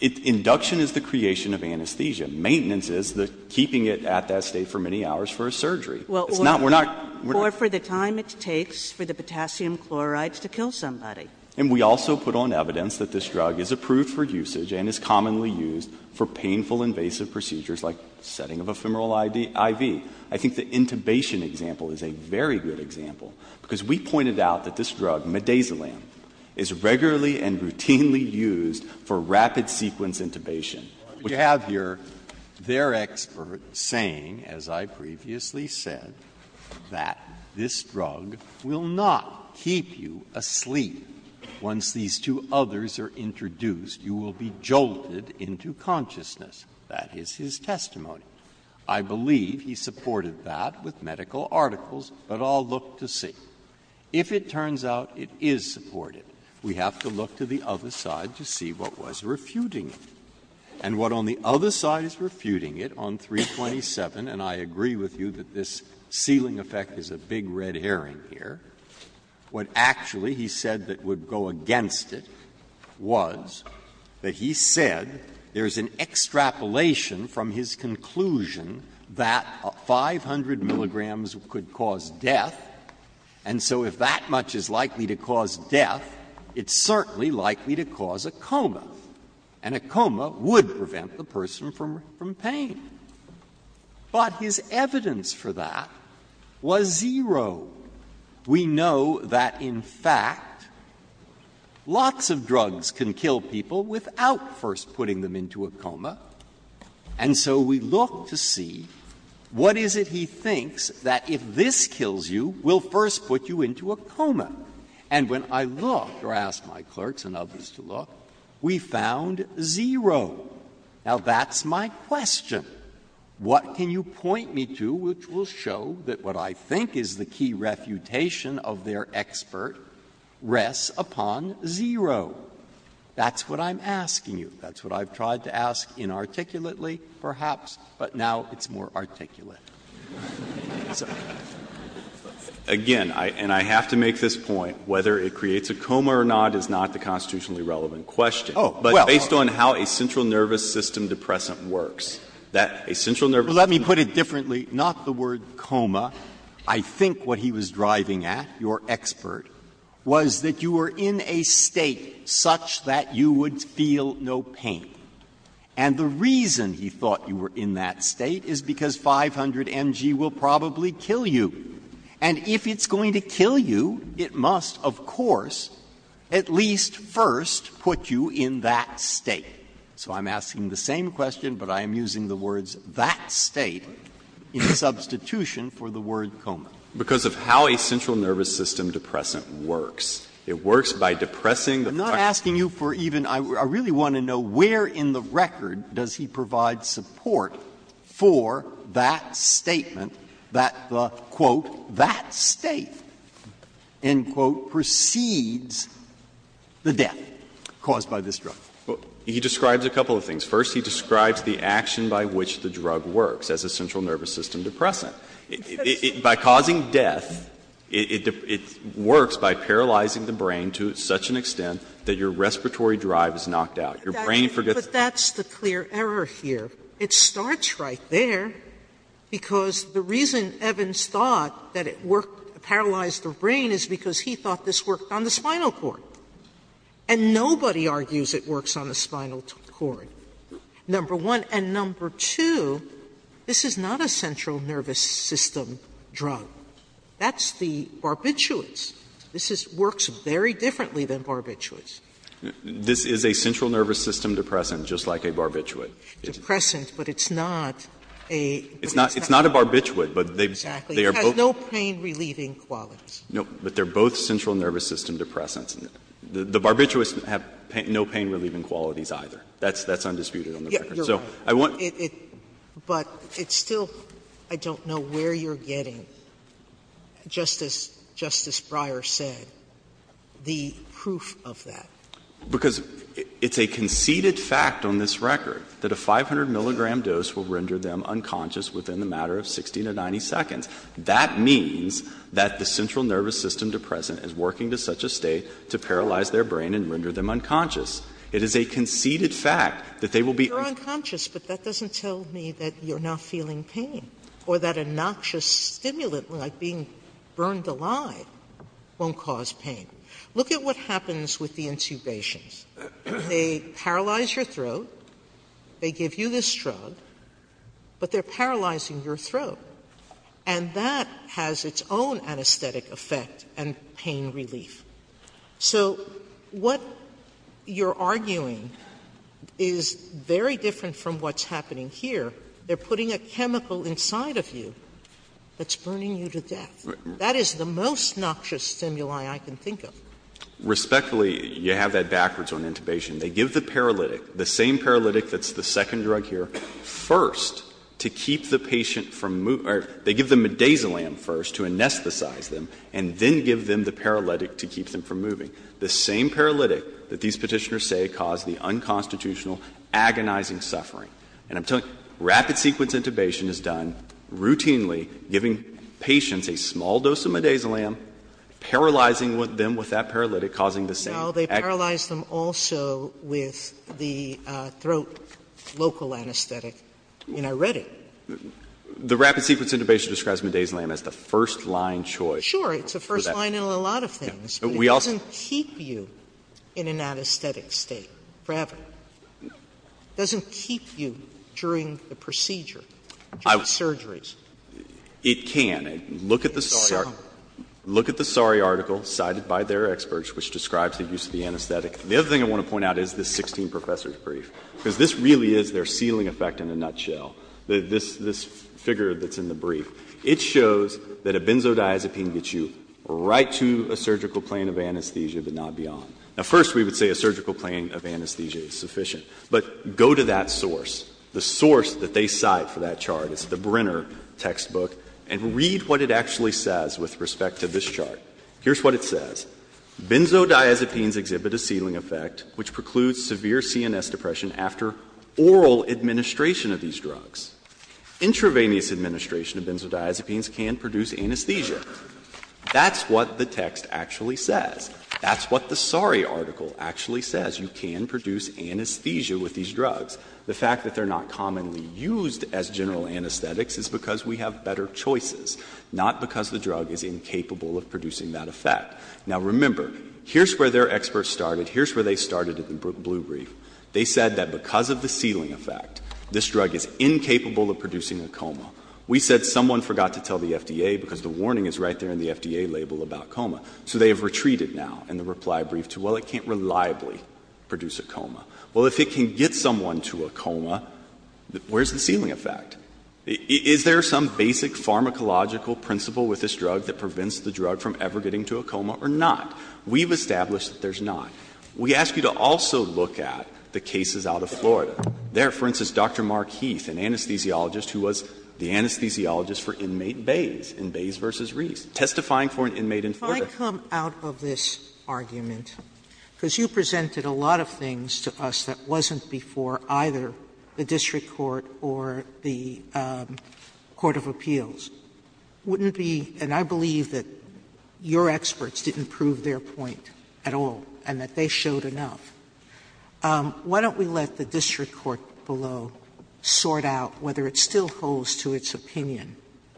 Induction is the creation of anesthesia. Maintenance is the keeping it at that state for many hours for a surgery. It's not — we're not — Or for the time it takes for the potassium chlorides to kill somebody. And we also put on evidence that this drug is approved for usage and is commonly used for painful, invasive procedures like setting of ephemeral IV. I think the intubation example is a very good example, because we pointed out that this drug, midazolam, is regularly and routinely used for rapid-sequence intubation. Breyer. You have your — their expert saying, as I previously said, that this drug will not keep you asleep once these two others are introduced. You will be jolted into consciousness. That is his testimony. I believe he supported that with medical articles, but I'll look to see. If it turns out it is supported, we have to look to the other side to see what was refuting it. And what on the other side is refuting it, on 327, and I agree with you that this ceiling effect is a big red herring here, what actually he said that would go against it was that he said there is an extrapolation from his conclusion that 500 milligrams could cause death, and so if that much is likely to cause death, it's certainly likely to cause a coma. And a coma would prevent the person from pain. But his evidence for that was zero. We know that, in fact, lots of drugs can kill people without first putting them into a coma, and so we look to see what is it he thinks that if this kills you will first put you into a coma. And when I looked, or asked my clerks and others to look, we found zero. Now, that's my question. What can you point me to which will show that what I think is the key refutation of their expert rests upon zero? That's what I'm asking you. That's what I've tried to ask inarticulately, perhaps, but now it's more articulate. Again, and I have to make this point, whether it creates a coma or not is not the constitutionally relevant question. But based on how a central nervous system depressant works, that a central nervous system depressant. Breyer. Well, let me put it differently, not the word coma. I think what he was driving at, your expert, was that you were in a State such that you would feel no pain. And the reason he thought you were in that State is because 500mg will probably kill you. And if it's going to kill you, it must, of course, at least first put you in that State. So I'm asking the same question, but I am using the words that State in substitution for the word coma. Because of how a central nervous system depressant works. It works by depressing the function. I'm asking you for even — I really want to know where in the record does he provide support for that statement that the, quote, that State, end quote, precedes the death caused by this drug. He describes a couple of things. First, he describes the action by which the drug works as a central nervous system depressant. By causing death, it works by paralyzing the brain to such an extent that your brain forgets that your respiratory drive is knocked out, your brain forgets that. Sotomayorer But that's the clear error here. It starts right there, because the reason Evans thought that it worked to paralyze the brain is because he thought this worked on the spinal cord. And nobody argues it works on the spinal cord, number one. And number two, this is not a central nervous system drug. That's the barbiturates. This works very differently than barbiturates. This is a central nervous system depressant, just like a barbiturate. Depressant, but it's not a barbiturate, but they are both no pain-relieving qualities. No, but they are both central nervous system depressants. The barbiturates have no pain-relieving qualities, either. That's undisputed on the record. So I want to But it's still — I don't know where you're getting, just as Justice Breyer said, the proof of that. Because it's a conceded fact on this record that a 500-milligram dose will render them unconscious within the matter of 60 to 90 seconds. That means that the central nervous system depressant is working to such a state to paralyze their brain and render them unconscious. It is a conceded fact that they will be Sotomayor, but that doesn't tell me that you're not feeling pain or that a noxious stimulant like being burned alive won't cause pain. Look at what happens with the intubations. They paralyze your throat. They give you this drug, but they're paralyzing your throat. And that has its own anesthetic effect and pain relief. So what you're arguing is very different from what's happening here. They're putting a chemical inside of you that's burning you to death. That is the most noxious stimuli I can think of. Respectfully, you have that backwards on intubation. They give the paralytic, the same paralytic that's the second drug here, first to keep the patient from moving or they give them midazolam first to anesthetize them and then give them the paralytic to keep them from moving, the same paralytic that these Petitioners say caused the unconstitutional, agonizing suffering. And I'm telling you, rapid sequence intubation is done routinely, giving patients a small dose of midazolam, paralyzing them with that paralytic, causing the same Sotomayor, they paralyze them also with the throat local anesthetic. I mean, I read it. The rapid sequence intubation describes midazolam as the first-line choice. Sure, it's the first line in a lot of things. But it doesn't keep you in an anesthetic state forever. It doesn't keep you during the procedure, during surgeries. It can. Look at the Sari article cited by their experts, which describes the use of the anesthetic. The other thing I want to point out is this 16 professors' brief, because this really is their ceiling effect in a nutshell, this figure that's in the brief. It shows that a benzodiazepine gets you right to a surgical plane of anesthesia, but not beyond. Now, first we would say a surgical plane of anesthesia is sufficient. But go to that source, the source that they cite for that chart, it's the Brenner textbook, and read what it actually says with respect to this chart. Here's what it says. Benzodiazepines exhibit a ceiling effect which precludes severe CNS depression after oral administration of these drugs. Intravenous administration of benzodiazepines can produce anesthesia. That's what the text actually says. That's what the Sari article actually says. You can produce anesthesia with these drugs. The fact that they're not commonly used as general anesthetics is because we have better choices, not because the drug is incapable of producing that effect. Now, remember, here's where their experts started. Here's where they started at the blue brief. They said that because of the ceiling effect, this drug is incapable of producing a coma. We said someone forgot to tell the FDA because the warning is right there in the FDA label about coma. So they have retreated now in the reply brief to, well, it can't reliably produce a coma. Well, if it can get someone to a coma, where's the ceiling effect? Is there some basic pharmacological principle with this drug that prevents the drug from ever getting to a coma or not? We've established that there's not. We ask you to also look at the cases out of Florida. There, for instance, Dr. Mark Heath, an anesthesiologist who was the anesthesiologist for inmate Bays in Bays v. Reese, testifying for an inmate in Florida. Sotomayor, if I come out of this argument, because you presented a lot of things to us that wasn't before either the district court or the court of appeals, wouldn't it be — and I believe that your experts didn't prove their point at all and that they showed enough — why don't we let the district court below sort out whether it still holds to its opinion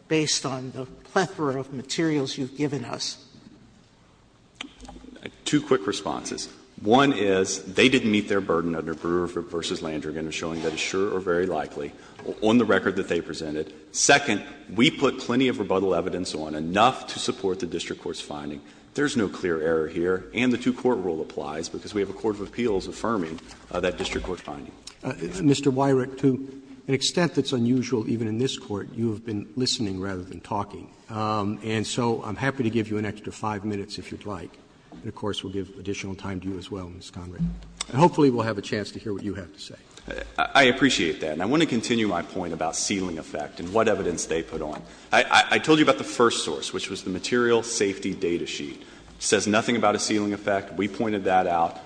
based on the plethora of materials you've given us? Horwich, two quick responses. One is, they didn't meet their burden under Brewer v. Landrigan in showing that it's sure or very likely on the record that they presented. Second, we put plenty of rebuttal evidence on, enough to support the district court's finding. There's no clear error here, and the two-court rule applies, because we have a court of appeals affirming that district court's finding. Mr. Weyrich, to an extent that's unusual even in this Court, you have been listening rather than talking. And so I'm happy to give you an extra 5 minutes if you'd like, and, of course, we'll give additional time to you as well, Mr. Conrad. And hopefully we'll have a chance to hear what you have to say. I appreciate that, and I want to continue my point about ceiling effect and what evidence they put on. I told you about the first source, which was the material safety data sheet. It says nothing about a ceiling effect. We pointed that out.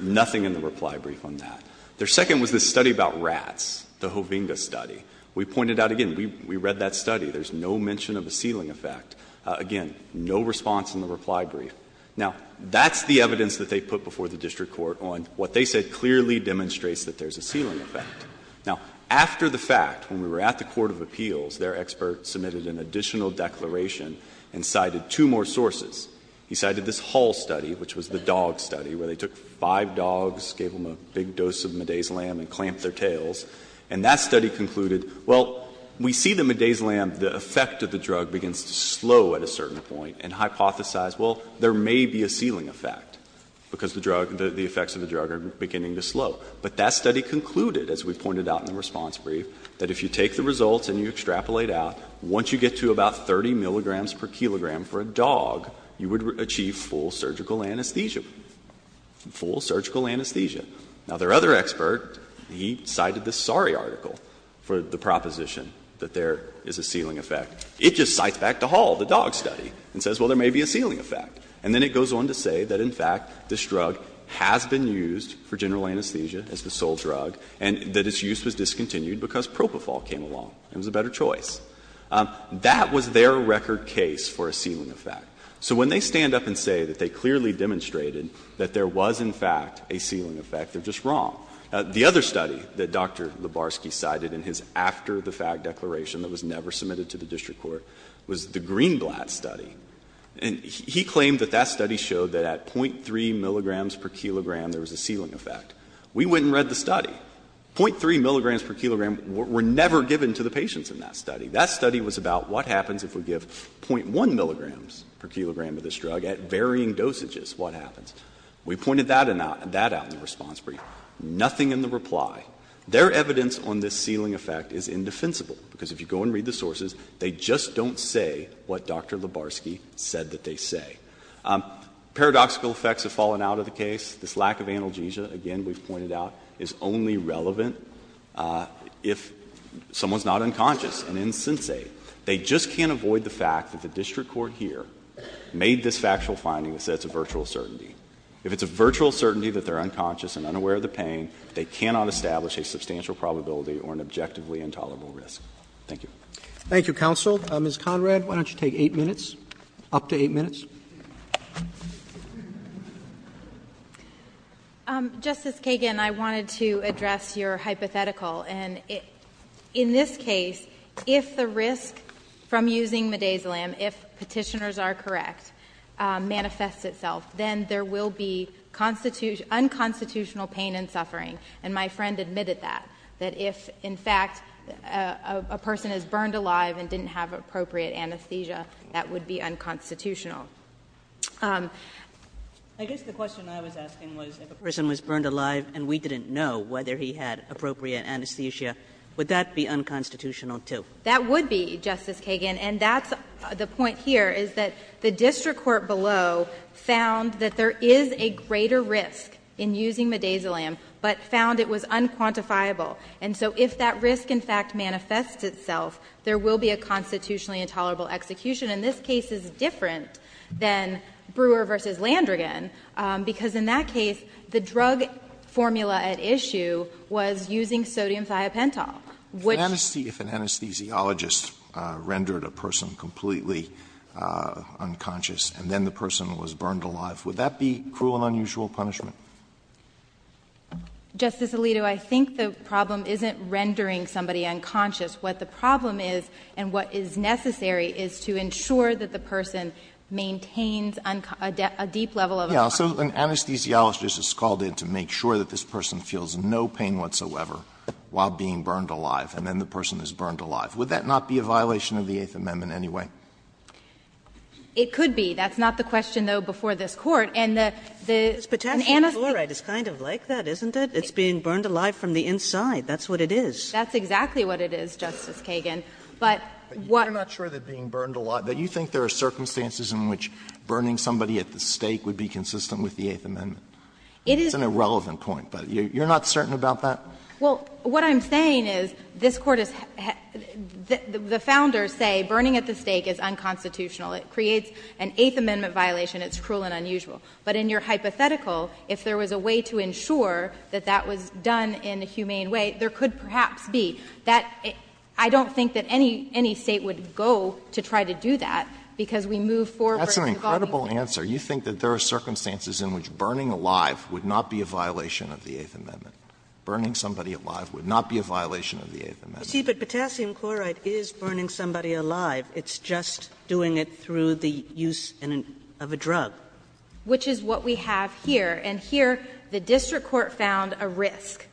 Nothing in the reply brief on that. Their second was this study about rats, the Hovinga study. We pointed out, again, we read that study. There's no mention of a ceiling effect. Again, no response in the reply brief. Now, that's the evidence that they put before the district court on what they said clearly demonstrates that there's a ceiling effect. Now, after the fact, when we were at the court of appeals, their expert submitted an additional declaration and cited two more sources. He cited this Hall study, which was the dog study, where they took five dogs, gave them a big dose of midazolam and clamped their tails. And that study concluded, well, we see the midazolam, the effect of the drug begins to slow at a certain point, and hypothesized, well, there may be a ceiling effect, because the drug, the effects of the drug are beginning to slow. But that study concluded, as we pointed out in the response brief, that if you take the results and you extrapolate out, once you get to about 30 milligrams per kilogram for a dog, you would achieve full surgical anesthesia, full surgical anesthesia. Now, their other expert, he cited this Sari article for the proposition that there is a ceiling effect. It just cites back to Hall, the dog study, and says, well, there may be a ceiling effect. And then it goes on to say that, in fact, this drug has been used for general anesthesia as the sole drug, and that its use was discontinued because propofol came along. It was a better choice. That was their record case for a ceiling effect. So when they stand up and say that they clearly demonstrated that there was, in fact, a ceiling effect, they're just wrong. The other study that Dr. Lubarsky cited in his after-the-fact declaration that was never submitted to the district court was the Greenblatt study. And he claimed that that study showed that at .3 milligrams per kilogram, there was a ceiling effect. We went and read the study. .3 milligrams per kilogram were never given to the patients in that study. That study was about what happens if we give .1 milligrams per kilogram of this drug at varying dosages. What happens? We pointed that out in the response brief. Nothing in the reply. Their evidence on this ceiling effect is indefensible, because if you go and read the sources, they just don't say what Dr. Lubarsky said that they say. Paradoxical effects have fallen out of the case. This lack of analgesia, again, we've pointed out, is only relevant if someone's not unconscious and insensate. They just can't avoid the fact that the district court here made this factual finding that says it's a virtual certainty. If it's a virtual certainty that they're unconscious and unaware of the pain, they cannot establish a substantial probability or an objectively intolerable risk. Thank you. Roberts. Thank you, counsel. Ms. Conrad, why don't you take 8 minutes, up to 8 minutes. Conrad. Justice Kagan, I wanted to address your hypothetical. And in this case, if the risk from using midazolam, if Petitioners are correct, manifests itself, then there will be unconstitutional pain and suffering. And my friend admitted that, that if, in fact, a person is burned alive and didn't have appropriate anesthesia, that would be unconstitutional. I guess the question I was asking was if a person was burned alive and we didn't know whether he had appropriate anesthesia, would that be unconstitutional too? That would be, Justice Kagan. And that's the point here, is that the district court below found that there is a greater risk in using midazolam, but found it was unquantifiable. And so if that risk, in fact, manifests itself, there will be a constitutionally intolerable execution. And this case is different than Brewer v. Landrigan, because in that case, the drug formula at issue was using sodium thiopentol, which was used in this case. And so the question is, if the person was burned alive and then the person was burned alive, would that be cruel and unusual punishment? Justice Alito, I think the problem isn't rendering somebody unconscious. What the problem is and what is necessary is to ensure that the person maintains a deep level of unconsciousness. Yes. So an anesthesiologist is called in to make sure that this person feels no pain whatsoever while being burned alive and then the person is burned alive. Would that not be a violation of the Eighth Amendment anyway? It could be. That's not the question, though, before this Court. And the anesthesiologist This potassium chloride is kind of like that, isn't it? It's being burned alive from the inside. That's what it is. That's exactly what it is, Justice Kagan. But what But you're not sure that being burned alive, but you think there are circumstances in which burning somebody at the stake would be consistent with the Eighth Amendment? It's an irrelevant point, but you're not certain about that? Well, what I'm saying is this Court is the Founders say burning at the stake is unconstitutional. It creates an Eighth Amendment violation. It's cruel and unusual. But in your hypothetical, if there was a way to ensure that that was done in a humane way, there could perhaps be. That — I don't think that any State would go to try to do that because we move forward to involving people. That's an incredible answer. You think that there are circumstances in which burning alive would not be a violation of the Eighth Amendment? Burning somebody alive would not be a violation of the Eighth Amendment. But potassium chloride is burning somebody alive. It's just doing it through the use of a drug. Which is what we have here. And here the district court found a risk,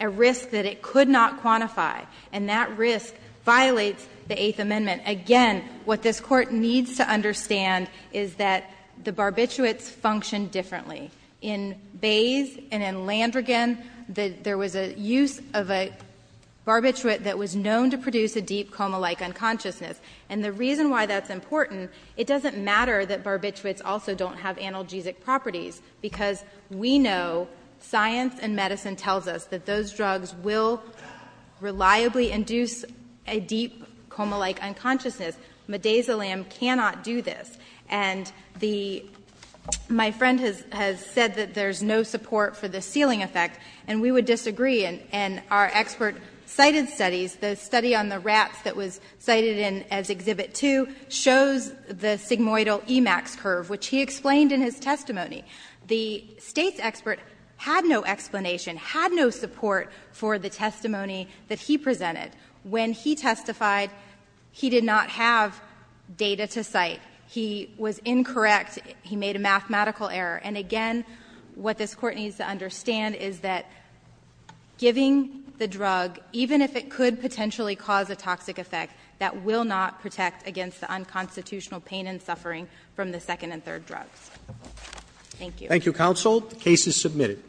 a risk that it could not quantify, and that risk violates the Eighth Amendment. Again, what this Court needs to understand is that the barbiturates function differently. In Bayes and in Landrigan, there was a use of a barbiturate that was known to produce a deep coma-like unconsciousness. And the reason why that's important, it doesn't matter that barbiturates also don't have analgesic properties, because we know science and medicine tells us that those drugs will reliably induce a deep coma-like unconsciousness. Midazolam cannot do this. And the my friend has said that there's no support for the ceiling effect, and we would disagree. And our expert cited studies, the study on the rats that was cited in as Exhibit 2, shows the sigmoidal Emax curve, which he explained in his testimony. The State's expert had no explanation, had no support for the testimony that he presented. When he testified, he did not have data to cite. He was incorrect. He made a mathematical error. And again, what this Court needs to understand is that giving the drug, even if it could potentially cause a toxic effect, that will not protect against the unconstitutional pain and suffering from the second and third drugs. Thank you. Roberts. Thank you, counsel. The case is submitted.